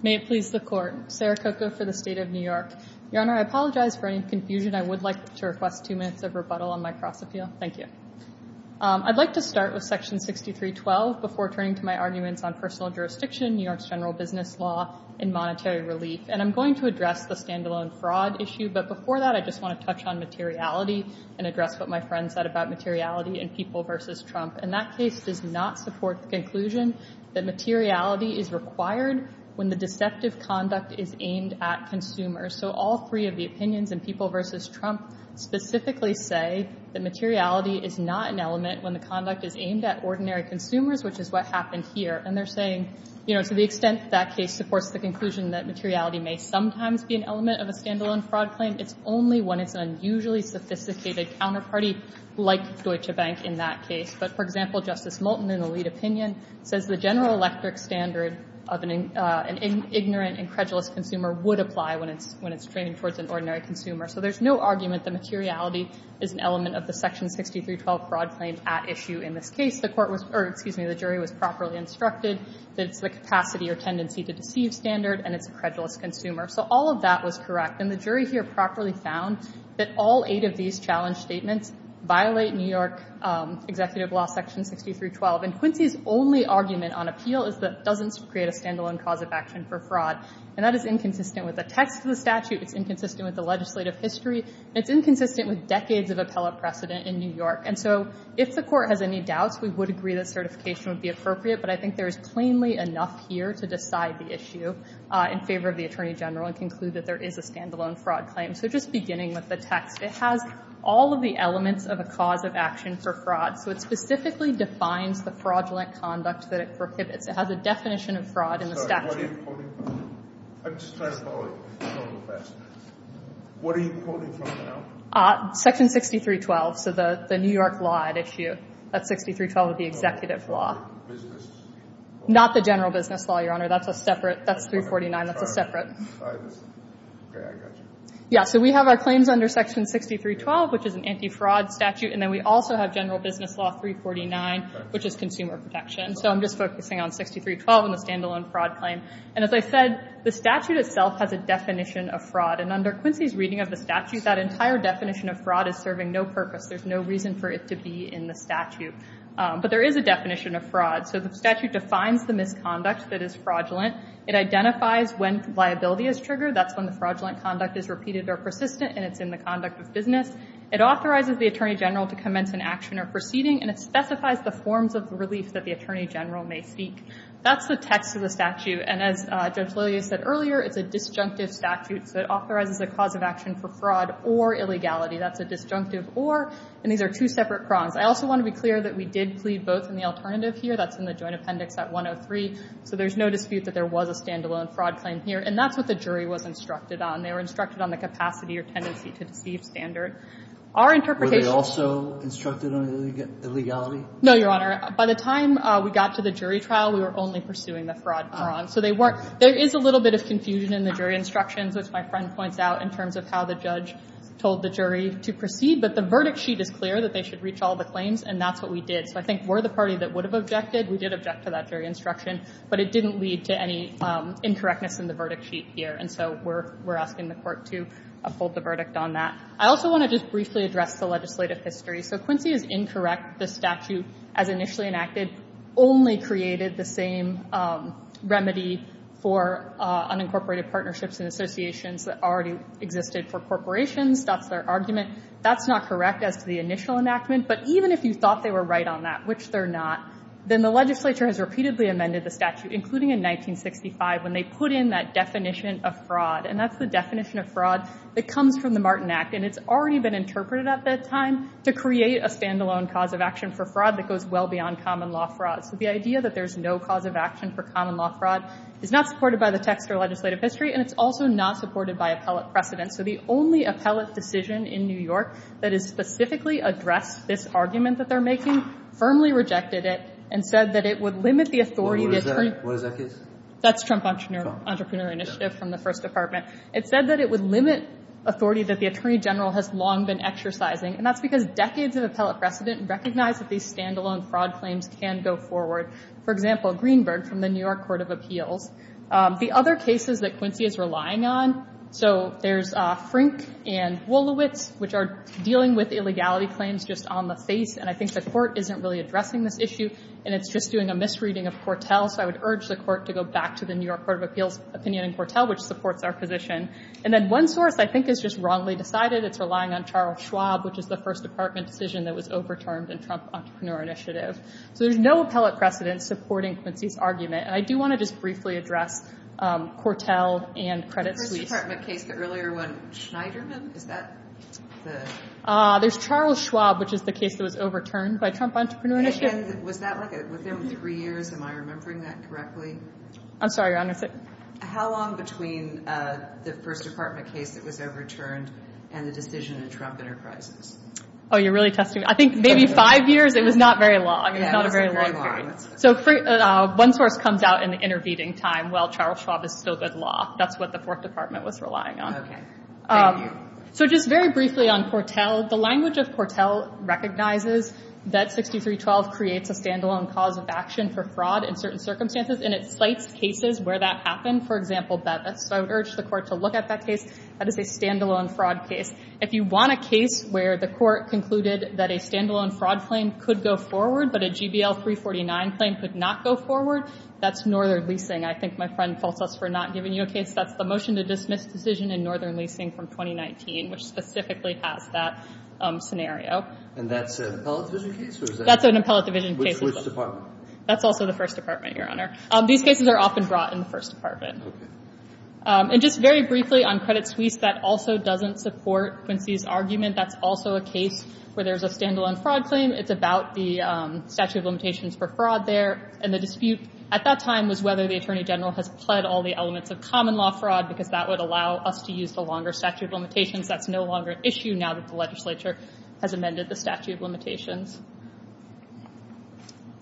May it please the court Sarah Coco for the State of New York Your Honor I apologize for any confusion I would like to request two minutes of rebuttal on my cross appeal. Thank you I'd like to start with section 6312 before turning to my arguments on personal jurisdiction, New York's general business law and monetary relief and I'm going to address the standalone fraud issue but before that I just want to touch on materiality and address what my friend said about materiality and people versus Trump and that case does not support the conclusion that materiality is required when the deceptive conduct is aimed at consumers so all three of the opinions in people versus Trump specifically say that materiality is not an element when the conduct is aimed at ordinary consumers which is what happened here and they're saying to the extent that case supports the conclusion that materiality may sometimes be an element of a standalone fraud claim it's only when it's an unusually sophisticated counterparty like Deutsche Bank in that case but for example Justice Moulton in the lead opinion says the general electric standard of an ignorant and credulous consumer would apply when it's trained towards an ordinary consumer so there's no argument that materiality is an element of the section 6312 fraud claim at issue in this case the jury was properly instructed that it's the capacity or tendency to deceive standard and it's a credulous consumer so all of that was correct and the jury here properly found that all eight of these challenge statements violate New York's executive law section 6312 and the jury's only argument on appeal is that it doesn't create a standalone cause of action for fraud and that is inconsistent with the text of the statute, it's inconsistent with the legislative history, it's inconsistent with decades of appellate precedent in New York and so if the court has any doubts we would agree that certification would be appropriate but I think there is plainly enough here to decide the issue in favor of the Attorney General and conclude that there is a standalone fraud claim so just beginning with the text it has all of the elements of a cause of action for fraud so it specifically defines the fraudulent conduct that it prohibits, it has a definition of fraud in the statute I'm just trying to follow you what are you quoting from now? Section 6312, so the New York law at issue, that's 6312 the executive law not the general business law your honor that's a separate, that's 349, that's a separate yeah so we have our claims under section 6312 which is an empty fraud statute and then we also have general business law 349 which is consumer protection so I'm just focusing on 6312 and the standalone fraud claim and as I said the statute itself has a definition of fraud and under Quincy's reading of the statute that entire definition of fraud is serving no purpose, there's no reason for it to be in the statute but there is a definition of fraud so the statute defines the misconduct that is fraudulent it identifies when liability is triggered, that's when the fraudulent conduct is repeated or persistent and it's in the conduct of business, it authorizes the attorney general to commence an action or proceeding and it specifies the forms of release that the attorney general may seek, that's the text of the statute and as Joe said earlier it's a disjunctive statute that authorizes the cause of action for fraud or illegality, that's a disjunctive or, and these are two separate prongs, I also want to be clear that we did plead both in the alternative here, that's in the joint appendix at 103, so there's no dispute that there was a standalone fraud claim here and that's what the jury was instructed on, they were standard. Our interpretation... Were they also instructed on illegality? No your honor, by the time we got to the jury trial we were only pursuing the fraud prong, so they weren't, there is a little bit of confusion in the jury instructions which my friend points out in terms of how the judge told the jury to proceed but the verdict sheet is clear that they should reach all the claims and that's what we did, so I think we're the party that would have objected, we did object to that jury instruction but it didn't lead to any incorrectness in the verdict sheet here and so we're asking the court to hold the verdict on that. I also want to just briefly address the legislative history so Quincy has incorrect the statute as initially enacted, only created the same remedy for unincorporated partnerships and associations that already existed for corporations that's their argument, that's not correct as the initial enactment but even if you thought they were right on that, which they're not then the legislature has repeatedly amended the statute including in 1965 when they put in that definition of fraud and that's the definition of fraud that comes from the Martin Act and it's already been interpreted at this time to create a standalone cause of action for fraud that goes well beyond common law fraud, so the idea that there's no cause of action for common law fraud is not supported by the text or legislative history and it's also not supported by appellate precedent, so the only appellate decision in New York that has specifically addressed this argument that they're making firmly rejected it and said that it would limit the authority that's Trump entrepreneur initiative from the first department, it said that it would limit authority that the Attorney General has long been exercising and that's because decades of appellate precedent recognize that these standalone fraud claims can go forward for example Greenberg from the New York Court of Appeals, the other cases that Quincy is relying on so there's Frink and Wolowitz which are dealing with illegality claims just on the face and I think the court isn't really addressing this issue and it's just doing a misreading of Cortel so I would urge the court to go back to the New York Court of Appeals opinion in Cortel which supports our position and then one source I think is just wrongly decided, it's relying on Charles Schwab which is the first department decision that was overturned in Trump entrepreneur initiative so there's no appellate precedent supporting Quincy's argument and I do want to just briefly address Cortel and Credit Suisse. The first department case earlier when Schneiderman, is that the... There's Charles Schwab which is the case that was overturned by Trump entrepreneur initiative Was that three years? Am I remembering that correctly? I'm sorry your honor. How long between the first department case that was overturned and the decision in Trump enterprise? Oh you're really testing me. I think maybe five years it was not very long. So one source comes out in the intervening time while Charles Schwab is still good law. That's what the fourth department was relying on. So just very briefly on Cortel the language of Cortel recognizes that 6312 creates a standalone cause of action for fraud in certain circumstances and it cites cases where that happened. For example, I urge the court to look at that case as a standalone fraud case. If you want a case where the court concluded that a standalone fraud claim could go forward but a GBL 349 claim could not go forward, that's Northern Leasing. I think my friend called us for not giving you a case. That's a motion to dismiss decision in Northern Leasing from 2019 which specifically has that scenario. And that's an appellate division case? That's an appellate division case. Which department? That's also the first department your honor. These cases are often brought in the first department. And just very briefly on credit tweets, that also doesn't support Quincy's argument that's also a case where there's a standalone fraud claim. It's about the statute of limitations for fraud there and the dispute at that time was whether the attorney general has pled all the elements of common law fraud because that would allow us to use the longer statute of limitations. That's no longer an issue now that the legislature has amended the statute of limitations.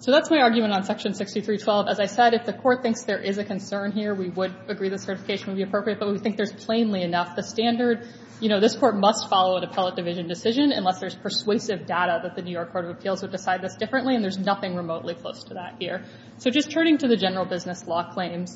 So that's my argument on section 6312. As I said, if the court thinks there is a concern here, we would agree that certification would be appropriate but we think there's plainly enough the standard you know, this court must follow the appellate division decision unless there's persuasive data that the New York Court of Appeals would decide this differently and there's nothing remotely close to that here. So just turning to the general business law claim,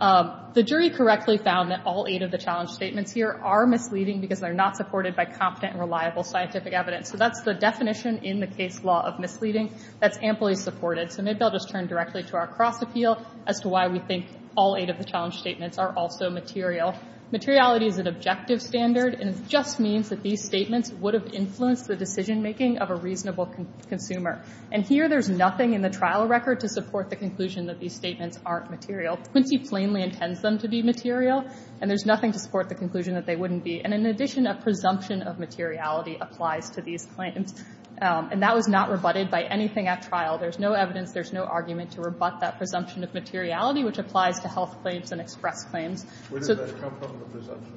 the jury correctly found that all eight of the challenge statements here are misleading because they're not supported by confident and reliable scientific evidence. So that's the definition in the case law of misleading that's amply supported. So maybe I'll just turn directly to our cross appeal as to why we think all eight of the challenge statements are also material. Materiality is an objective standard and it just means that these statements would have influenced the decision making of a reasonable consumer. And here there's nothing in the trial record to support the conclusion that these statements aren't material. Quincy plainly intends them to be material and there's nothing to support the conclusion that they wouldn't be. And in addition, a presumption of materiality applies to these claims. And that was not rebutted by anything at trial. There's no evidence, there's no argument to rebut that presumption of materiality which applies to health claims and extract claims. Where does that come from, the presumption?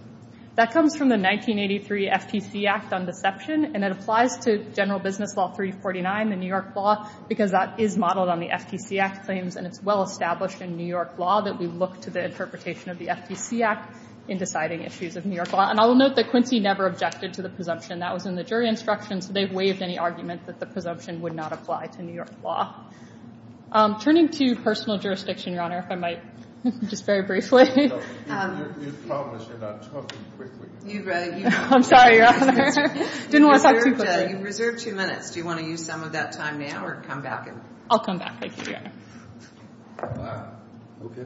That comes from the 1983 FTC Act on deception and it applies to general business law 349, the New York law, because that is modeled on the FTC Act claims and it's well established in the New York law that we look to the interpretation of the FTC Act in deciding issues of New York law. And I will note that Quincy never objected to the presumption. That was in the jury instructions. They've waived any arguments that the presumption would not apply to New York law. Turning to personal jurisdiction, Your Honor, if I might just very briefly. I'm sorry, Your Honor. Do you want to use some of that time now or come back? I'll come back. Okay.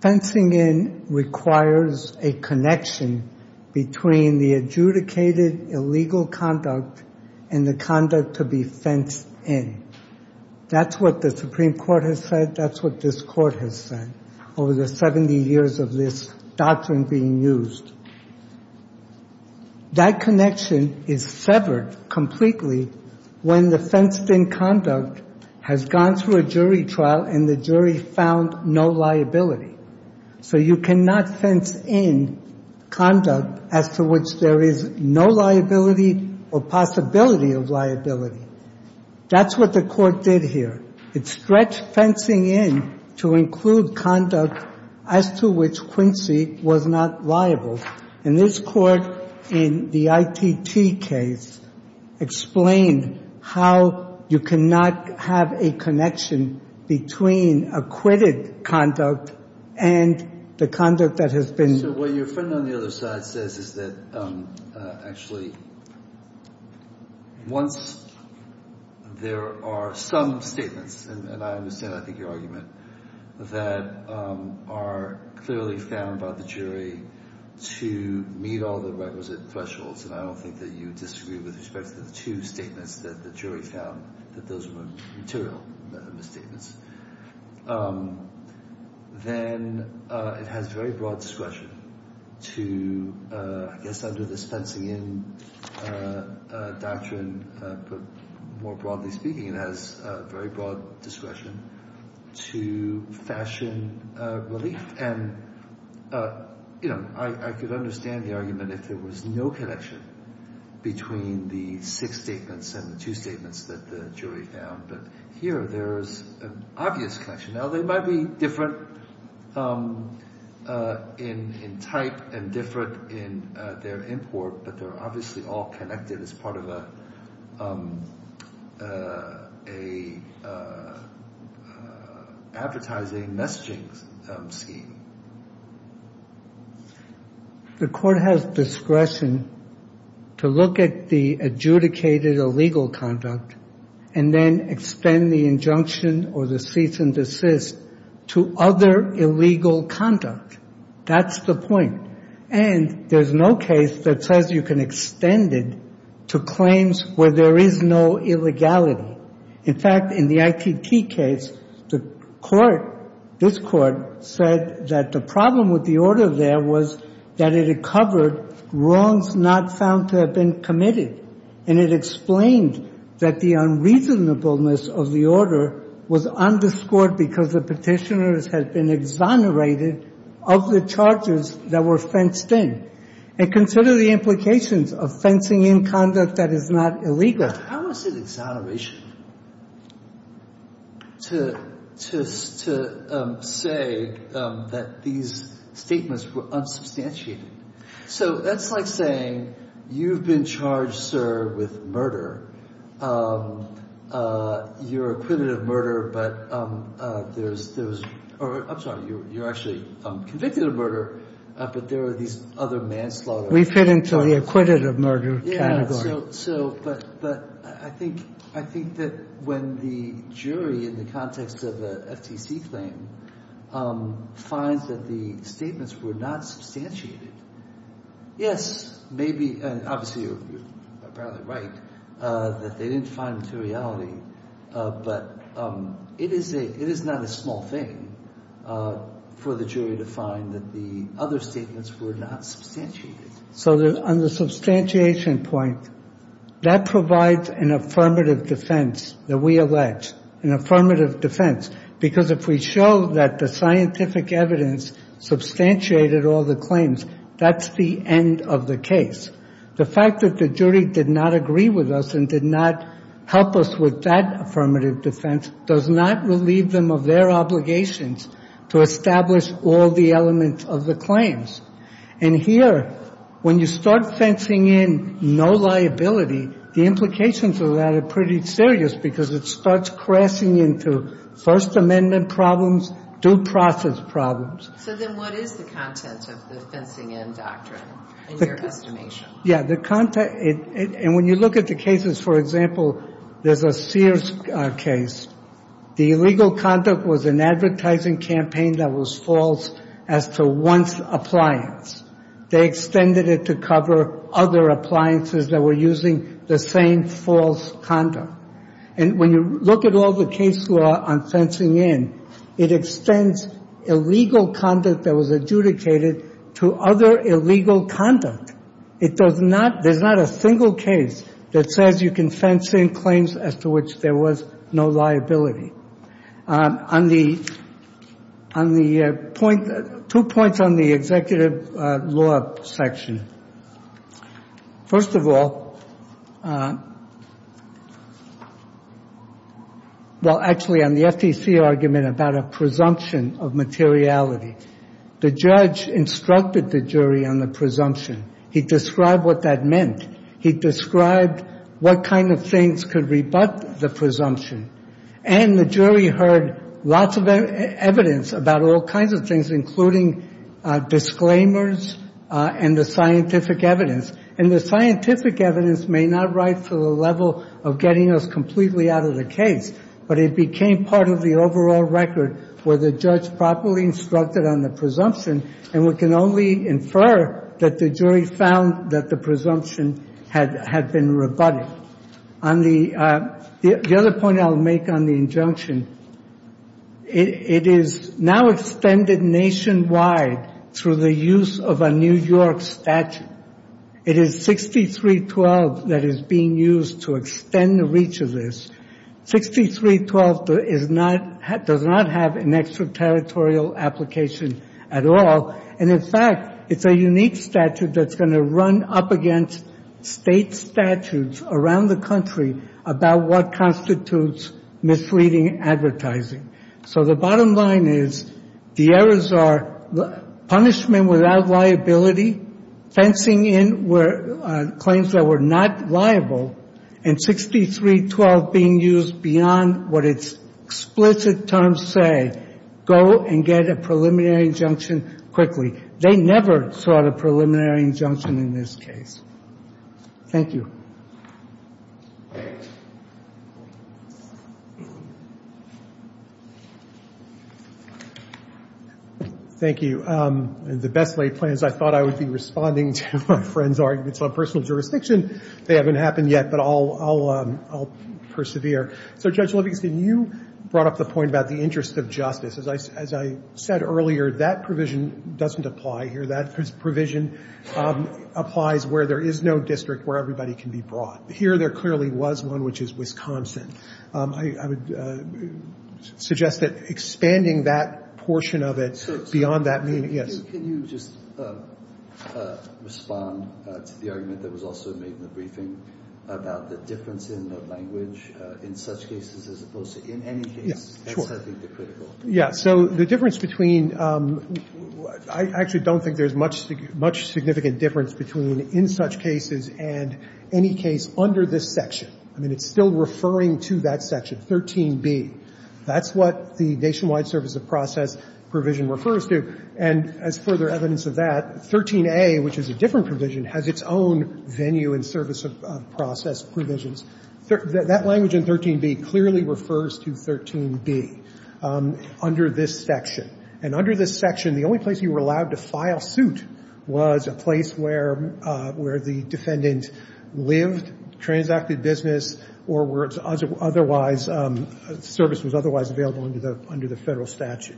Fencing in requires a connection between the adjudicated illegal conduct and the conduct to be fenced in. That's what the Supreme Court has said. That's what this court has said over the 70 years of this doctrine being used. That connection is severed completely when the fenced in conduct has gone through a jury trial and the jury found no liability. So you cannot fence in conduct as to which there is no liability or possibility of liability. That's what the court did here. It stretched fencing in to include conduct as to which Quincy was not liable. And this court in the ITT case explained how you cannot have a connection between acquitted conduct and the conduct that has been... So what your friend on the other side says is that actually once there are some statements, and I understand, I think, your argument that are clearly found by the jury to meet all the requisite thresholds, and I don't think that you disagree with respect to the two statements that the jury found that those were material misstatements. Then it has very broad discretion to, I guess, under this fencing in doctrine, more broadly speaking, it has very broad discretion to fashion relief, and I could understand the argument if there was no connection between the six statements and the two statements that the jury found, but here there is an obvious connection. Now they might be different in type and different in their import, but they're obviously all connected as part of a advertising messaging scheme. The court has discretion to look at the adjudicated illegal conduct and then extend the injunction or the cease and desist to other illegal conduct. That's the point, and there's no case that says you can extend it to claims where there is no illegality. In fact, in the IPP case, the court, this court, said that the problem with the order there was that it had covered wrongs not found to have been committed, and it explained that the unreasonableness of the order was underscored because the petitioners had been exonerated of the charges that were fenced in. And consider the implications of fencing in conduct that is not illegal. How is it exoneration to say that these statements were unsubstantiated? So that's like saying, you've been charged, sir, with murder. You're acquitted of murder, but there's I'm sorry, you're actually convicted of murder, but there are these other manslaughter. We fit into the acquitted of murder category. But I think that when the jury in the context of the FTC claim finds that the statements were not substantiated, yes, maybe, and obviously you're right, that they didn't find this a reality, but it is not a small thing for the jury to find that the other statements were not substantiated. So on the substantiation point, that provides an affirmative defense that we allege, an affirmative defense, because if we show that the scientific evidence substantiated all the claims, that's the end of the case. The fact that the jury did not agree with us and did not help us with that affirmative defense does not relieve them of their obligations to establish all the elements of the claims. And here, when you start fencing in no liability, the implications of that are pretty serious, because it starts crashing into First Amendment problems, due process problems. So then what is the content of the fencing in doctrine in your estimation? And when you look at the cases, for example, there's a Sears case. The illegal conduct was an advertising campaign that was false as to one's appliance. They extended it to cover other appliances that were using the same false conduct. And when you look at all the case law on fencing in, it extends illegal conduct that was adjudicated to other illegal conduct. It does not, there's not a single case that says you can fence in claims as to which there was no liability. On the point, two points on the executive law section. First of all, well, actually, on the FTC argument about a presumption of materiality, the judge instructed the jury on the presumption. He described what that meant. He described what kind of things could rebut the presumption. And the jury heard lots of evidence about all kinds of things, including disclaimers and the scientific evidence. And the scientific evidence may not write to the level of getting us completely out of the case, but it became part of the overall record for the judge properly instructed on the presumption. And we can only infer that the jury found that the presumption had been rebutted. The other point I'll make on the injunction, it is now extended nationwide through the use of a New York statute. It is 6312 that is being used to extend the reach of this. 6312 does not have an extraterritorial application at all. And in fact, it's a unique statute that's going to run up against state statutes around the country about what constitutes misleading advertising. So the bottom line is the errors are punishment without liability, fencing in claims that were not liable, and 6312 being used beyond what its explicit terms say, go and get a preliminary injunction quickly. They never sought a preliminary injunction in this case. Thank you. Thank you. The best laid plans, I thought I would be responding to a friend's argument on personal jurisdiction. They haven't happened yet, but I'll persevere. So Judge Levinson, you brought up the point about the interest of justice. As I said earlier, that provision doesn't apply here. That provision applies where there is no district where everybody can be brought. Here there clearly was one which is Wisconsin. I would suggest that expanding that portion of it beyond that... Can you just respond to the argument that was also made in the briefing about the difference in the language in such cases as opposed to in any case? Yeah, so the difference between... I actually don't think there's much significant difference between in such cases and any case under this section. I mean, it's still referring to that section, 13B. That's what the Nationwide Service of Process provision refers to, and as further evidence of that, 13A, which is a different provision, has its own venue and service of process provisions. That language in 13B clearly refers to 13B under this section. And under this section, the only place you were allowed to file suit was a place where the defendant lived, transacted business, or were otherwise... service was otherwise available under the federal statute.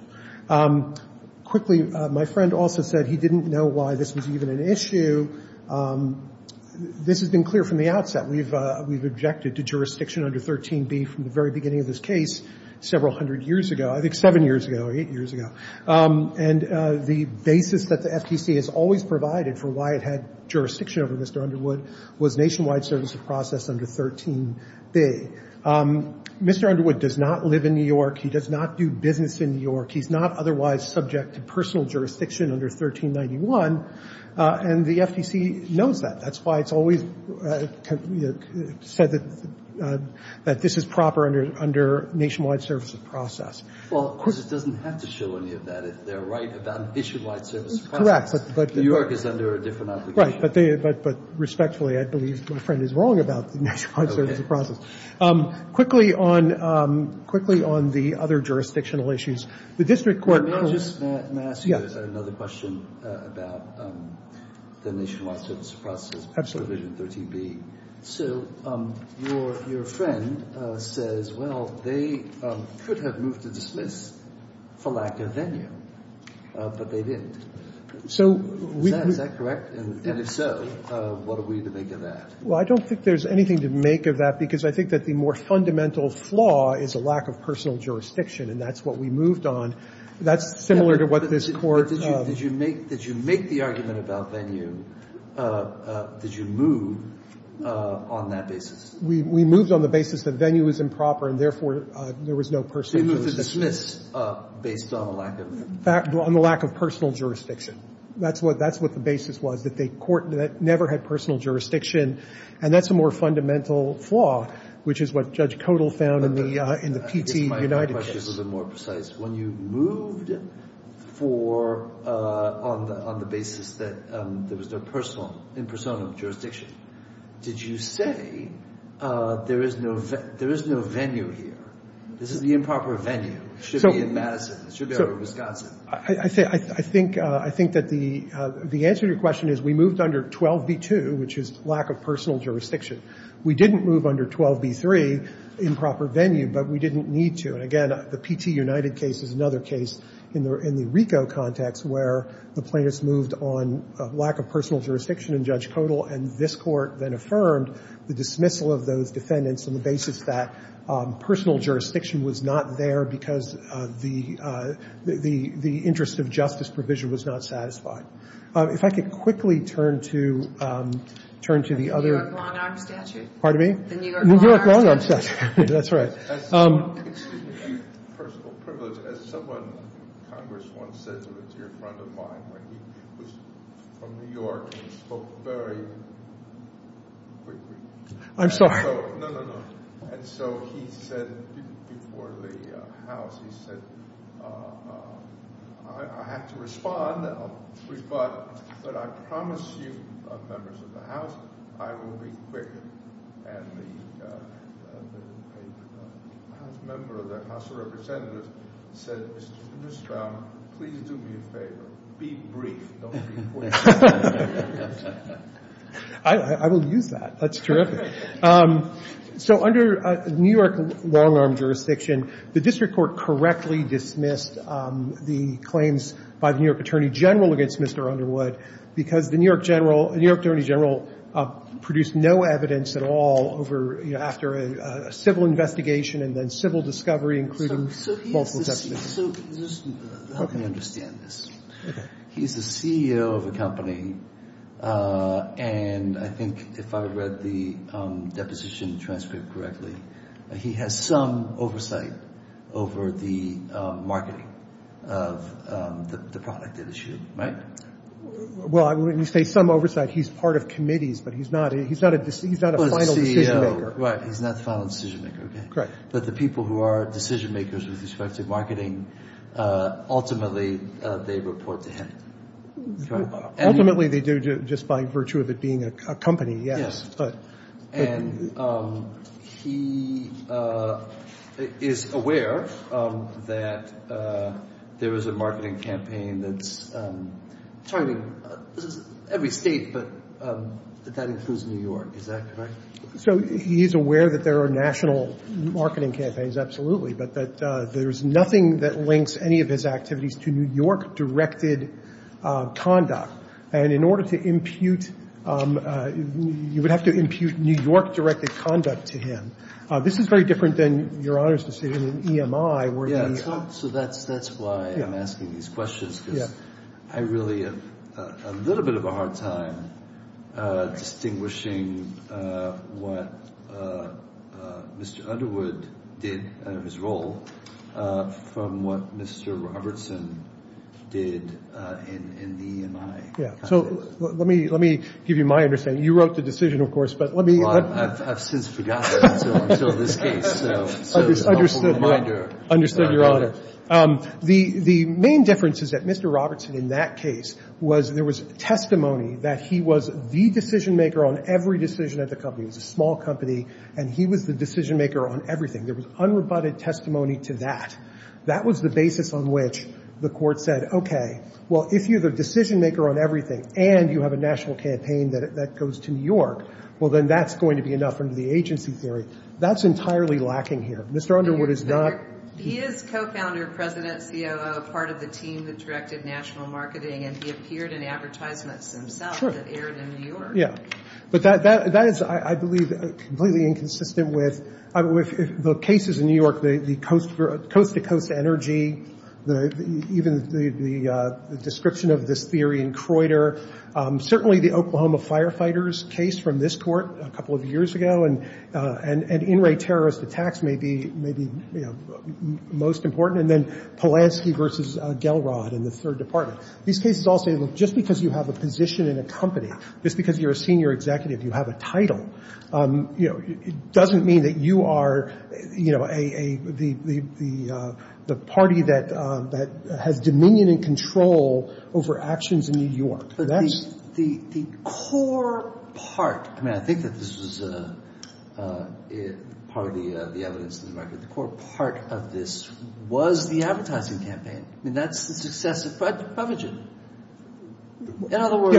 Quickly, my friend also said he didn't know why this was even an issue. This has been clear from the outset. We've objected to jurisdiction under 13B from the very beginning of this case several hundred years ago. I think seven years ago or eight years ago. And the basis that the FCC has always provided for why it had jurisdiction over Mr. Underwood was Nationwide Service of Process under 13B. Mr. Underwood does not live in New York. He does not do business in New York. He's not otherwise subject to personal jurisdiction under 1391. And the FCC knows that. That's why it's always said that this is proper under Nationwide Service of Process. Well, of course, it doesn't have to show any of that, is there, right, of that? New York is under a different application. Right, but respectfully, I believe my friend is wrong about Nationwide Service of Process. Quickly on the other jurisdictional issues. The district court... May I ask you another question about the Nationwide Service of Process provision 13B? Your friend says, well, they could have moved to dismiss for lack of venue, but they didn't. Is that correct? And if so, what are we to make of that? Well, I don't think there's anything to make of that because I think that the more fundamental flaw is a lack of personal jurisdiction, and that's what we moved on. That's similar to what this court... Did you make the argument about venue? Did you move on that basis? We moved on the basis that venue was improper, and therefore there was no personal jurisdiction. Based on the lack of... On the lack of personal jurisdiction. That's what the basis was. They never had personal jurisdiction, and that's a more fundamental flaw, which is what Judge Codal found in the P.T. United case. When you moved on the basis that there was no personal jurisdiction, did you say there is no venue here? This is the improper venue. It should be in Madison. I think that the answer to your question is we moved under 12b2, which is lack of personal jurisdiction. We didn't move under 12b3, improper venue, but we didn't need to. Again, the P.T. United case is another case in the RICO context where the plaintiffs moved on lack of personal jurisdiction in Judge Codal, and this court then affirmed the dismissal of those defendants on the basis that personal jurisdiction was not there because the interest of justice provision was not satisfied. If I could quickly turn to the other... Pardon me? That's right. I'm sorry. I have to respond. But I promise you, members of the House, I will be quick. I will use that. That's terrific. Under New York long-arm jurisdiction, the district court correctly dismissed the claims by the New York Attorney General against Mr. Underwood because the New York Attorney General produced no evidence at all after a civil investigation and then civil discovery, including multiple defendants. Let me understand this. He's the CEO of a company, and I think if I read the deposition transcript correctly, he has some oversight over the marketing of the product that is issued. Well, you say some oversight. He's part of committees, but he's not a final decision-maker. He's not a final decision-maker. But the people who are decision-makers with respect to marketing, ultimately, they report to him. Ultimately, they do just by virtue of it being a company, yes. And he is aware that there is a marketing campaign that's... Every state, but that includes New York. Is that correct? He's aware that there are national marketing campaigns, absolutely, but there's nothing that links any of his activities to New York-directed conduct. And in order to impute... You would have to impute New York-directed conduct to him. This is very different than your honors decision in EMI where... Yeah, so that's why I'm asking these questions. I really have a little bit of a hard time distinguishing what Mr. Underwood did in his role from what Mr. Robertson did in EMI. Yeah, so let me give you my understanding. You wrote the decision, of course, but let me... I forgot that. Understood. Understood your honor. The main difference is that Mr. Robertson in that case was there was testimony that he was the decision-maker on every decision of the company. It was a small company, and he was the decision-maker on everything. There was unrebutted testimony to that. That was the basis on which the court said, okay, well, if you're the decision-maker on everything and you have a national campaign that goes to New York, well, then that's going to be enough under the agency theory. That's entirely lacking here. Mr. Underwood is not... He is co-founder and president, COO, part of the team that directed national marketing, and he appeared in advertisements himself that aired in New York. Yeah, but that is, I believe, completely inconsistent with the cases in New York, the coast to coast energy, even the description of this theory in Creuter, certainly the Oklahoma firefighters case from this court a couple of years ago and in-ray terrorist attacks may be most important, and then Polanski versus Gelrod in the third department. These cases all say, well, just because you have a position in a company, just because you're a senior executive, you have a title, it doesn't mean that you are the party that has dominion and control over actions in New York. The core part, I mean, I think that this is part of the evidence to the record, the core part of this was the advertising campaign, and that's the success of Fudge's In other words...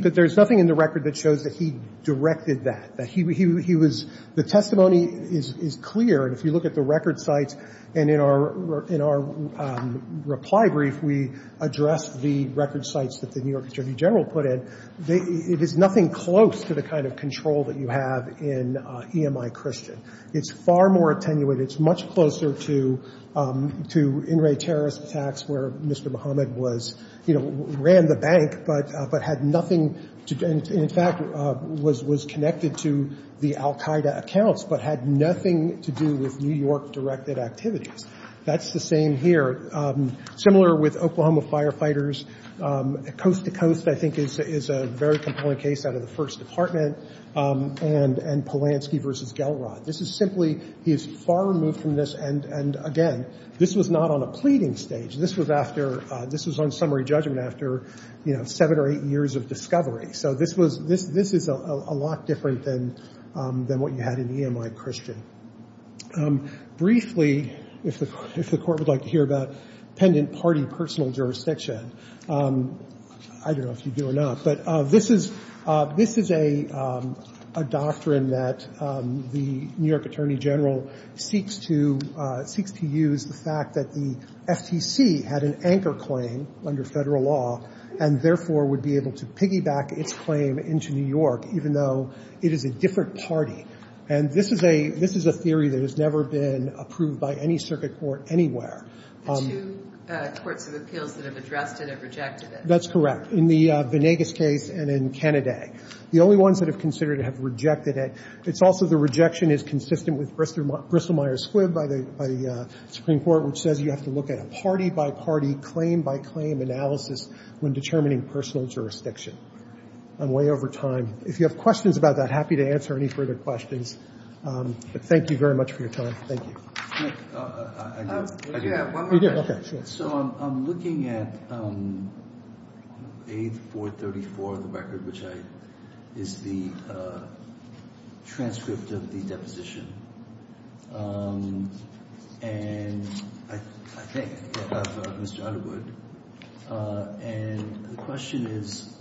But there's nothing in the record that shows that he directed that. He was... The testimony is clear, if you look at the record site, and in our reply brief, we addressed the record sites that the New York Attorney General put in, it is nothing close to the kind of control that you have in EMI Christian. It's far more attenuated, it's much closer to in-ray terrorist attacks where Mr. Muhammad was, ran the bank, but had nothing to do... In fact, was connected to the Al-Qaeda accounts, but had nothing to do with New York directed activities. That's the same here. Similar with Oklahoma firefighters, Coast to Coast, I think, is a very compelling case out of the First Department, and Polanski versus Gelrod. This is simply... He's far removed from this, and again, this was not on a pleading stage. This was after... This was on summary judgment after, you know, seven or eight years of discovery. So this was... This is a lot different than what you had in EMI Christian. Briefly, if the court would like to hear about pendant party personal jurisdiction, I don't know if you do or not, but this is a doctrine that the New York Attorney General seeks to use the fact that the SEC had an anchor claim under federal law, and therefore would be able to piggyback its claim into New York, even though it is a different party. And this is a... This is a theory that has never been approved by any circuit court anywhere. That's correct. In the Venegas case and in Canada, the only ones that have considered it have rejected it. It's also the rejection is consistent with Grisselmeyer's quid by the Supreme Court, which says you have to look at party by party, claim by claim analysis when determining personal jurisdiction. I'm way over time. If you have questions about that, I'm happy to answer any further questions. Thank you very much for your time. Thank you. I do have one more question. So I'm looking at page 434 of the record, which is the transcript of the deposition. And I think, and the question is,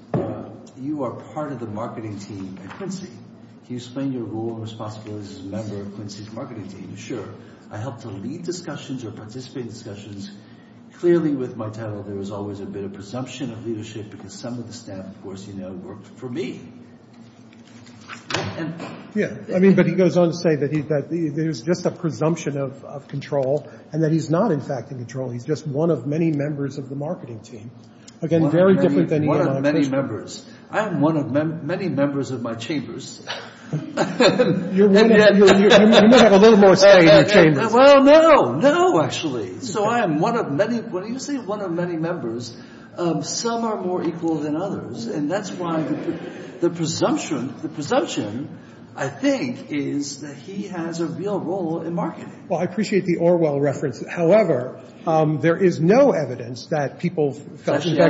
you are part of the marketing team at Quincy. Can you explain your role and responsibilities as a member of Quincy's marketing team? Sure. I help to lead discussions or participate in discussions. Clearly, with Martello, there was always a bit of presumption of leadership because some of the staff, of course, you know, worked for me. Yeah. I mean, but he goes on to say that he's that... There's just a presumption of control and that he's not, in fact, in control. He's just one of many members of the marketing team. One of many members. I'm one of many members of my chambers. You may have a little more say in the chamber. Well, no, no, actually. So I am one of many... When you say one of many members, some are more equal than others, and that's why the presumption, the presumption, I think, is that he has a real role in marketing. Well, I appreciate the Orwell reference. However, there is no evidence that people... But there's no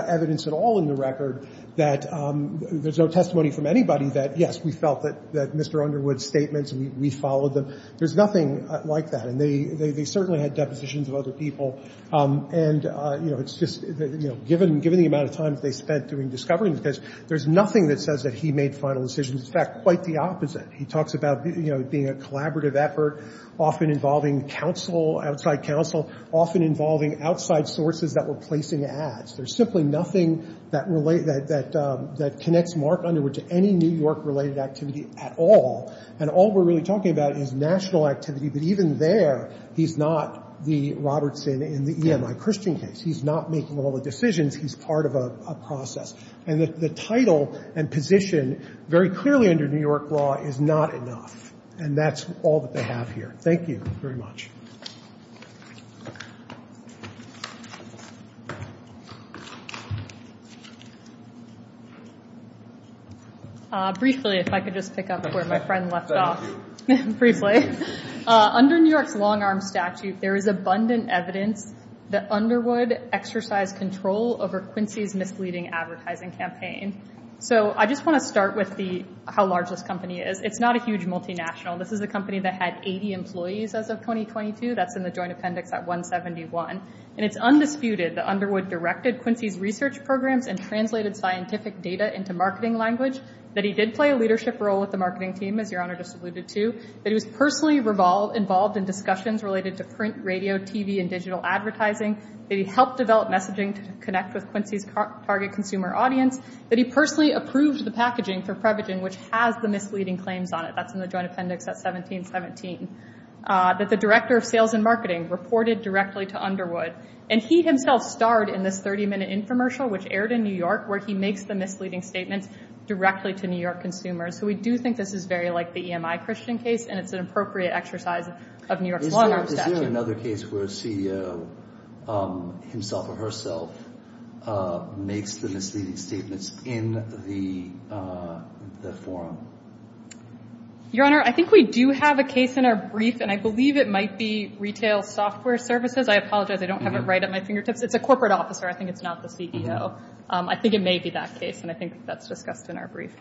evidence at all in the record that... There's no testimony from anybody that, yes, we felt that Mr. Underwood's statements, and we followed them. There's nothing like that. They certainly had depositions of other people. And, you know, it's just that, you know, given the amount of time they spent doing discoverings, there's nothing that says that he made final decisions. In fact, quite the opposite. He talks about being a collaborative effort, often involving counsel, outside counsel, often involving outside sources that were placed in the ads. There's simply nothing that relates... that connects Mark Underwood to any New York-related activity at all. And all we're really talking about is national activity, but even there, he's not the Robertson in the EMI Christian case. He's not making all the decisions. He's part of a process. And the title and position, very clearly under New York law, is not enough. And that's all that they have here. Thank you very much. Briefly, if I could just pick up where my friend left off. Under New York's long-arm statute, there is abundant evidence that Underwood exercised control over Quincy's misleading advertising campaign. I just want to start with how large this company is. It's not a huge multinational. This is a company that had 80 employees as of 2022. That's in the Joint Appendix at 171. And it's undisputed that Underwood directed Quincy's research programs and translated scientific data into marketing language, that he did play a leadership role with the marketing team, as Your Honor just alluded to, that he was personally involved in discussions related to print, radio, TV, and digital advertising, that he helped develop messaging to connect with target consumer audience, that he personally approved the packaging for Prevagen, which has the misleading claims on it. That's in the Joint Appendix at 1717. That the director of sales and marketing reported directly to Underwood. And he himself starred in this 30-minute infomercial, which aired in New York, where he makes the misleading statement directly to New York consumers. So we do think this is very like the EMI Christian case, and it's an appropriate exercise of New York's long-arm statute. Is there another case where a CEO himself or herself makes the misleading statements in the forum? Your Honor, I think we do have a case in our brief, and I believe it might be retail software services. I apologize, I don't have it right at my fingertips. It's a corporate officer. I think it's not the CEO. I think it may be that case, and I think that's discussed in our brief.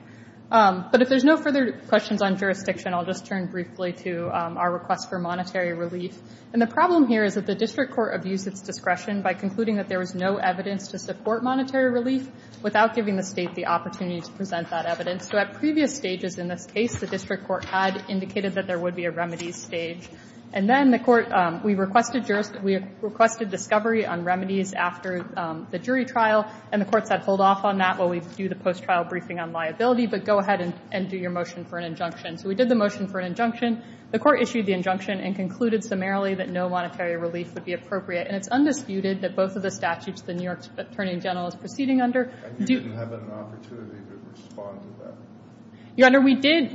But if there's no further questions on jurisdiction, I'll just turn briefly to our request for monetary relief. And the court issued a motion for a discussion by concluding that there was no evidence to support monetary relief without giving the state the opportunity to present that evidence. So at previous stages in this case, the district court had indicated that there would be a remedies stage. And then the court, we requested discovery on remedies after the jury trial, and the court said hold off on that while we do the post-trial briefing on liability, but go ahead and do your motion for an injunction. So we did the motion for an injunction. The court issued the injunction and concluded summarily that no monetary relief would be appropriate. And it's undisputed that both of the statutes the New York Attorney General is proceeding under... And you didn't have an opportunity to respond to that? Your Honor, we did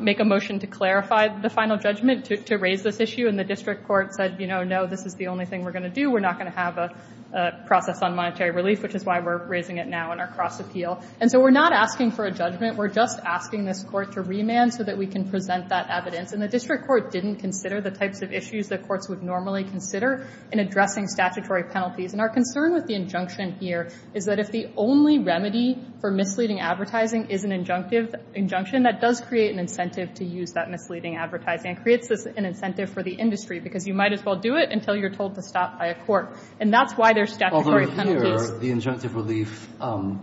make a motion to clarify the final judgment to raise this issue, and the district court said, you know, no, this is the only thing we're going to do. We're not going to have a process on monetary relief, which is why we're raising it now in our cross-appeal. And so we're not asking for a judgment. We're just asking this court to remand so that we can present that evidence. And the district court didn't consider the types of issues that courts would normally consider in addressing statutory penalties. And our concern with the injunction here is that if the only remedy for misleading advertising is an injunction, that does create an incentive to use that misleading advertising. It creates an incentive for the industry because you might as well do it until you're told to stop by a court. And that's why there's statutory penalties. Although here, the injunctive relief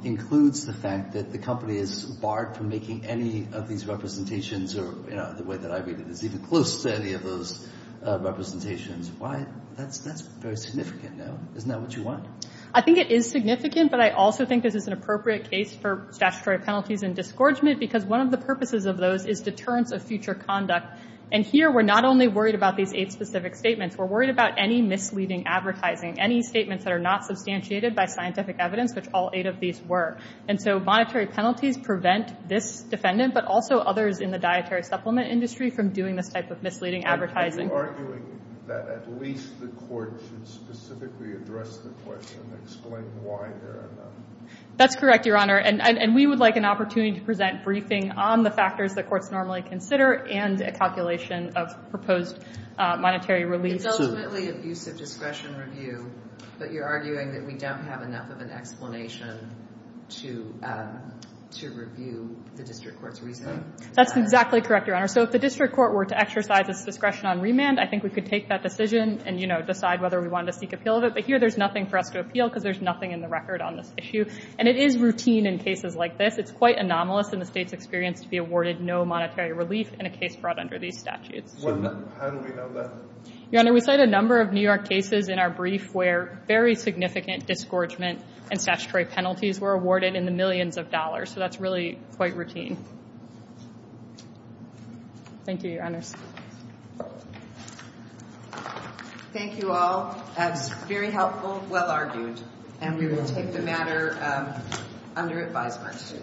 includes the fact that the company is barred from making any of these representations or, you know, the way that I read it, it's even close to any of those representations. Why? That's very significant, no? Isn't that what you want? I think it is significant, but I also think this is an appropriate case for statutory penalties and disgorgement because one of the purposes of those is deterrence of future conduct. And here, we're not only worried about these eight specific statements. We're worried about any misleading advertising, any statements that are not substantiated by scientific evidence, which all eight of these were. And so monetary penalties prevent this defendant but also others in the dietary supplement industry from doing this type of misleading advertising. Are you arguing that at least the court should specifically address the question and explain why there are none? That's correct, Your Honor. And we would like an opportunity to present briefing on the factors the courts normally consider and a calculation of proposed monetary relief. It's ultimately an abusive discretion review that you're arguing that we don't have enough of an explanation to review the district court's remand. That's exactly correct, Your Honor. So if the district court were to exercise its discretion on remand, I think we could take that decision and decide whether we wanted to seek appeal of it. But here, there's nothing for us to appeal because there's nothing in the record on this issue. And it is routine in cases like this. It's quite anomalous in the state's experience to be awarded no monetary relief in a case brought under these statutes. How do we know that? Your Honor, we cite a number of New York cases in our brief where very significant disgorgement and statutory penalties were awarded in the millions of dollars. So that's really quite routine. Thank you, Your Honor. Thank you all. Very helpful. Well argued. And we will take the matter under advisory.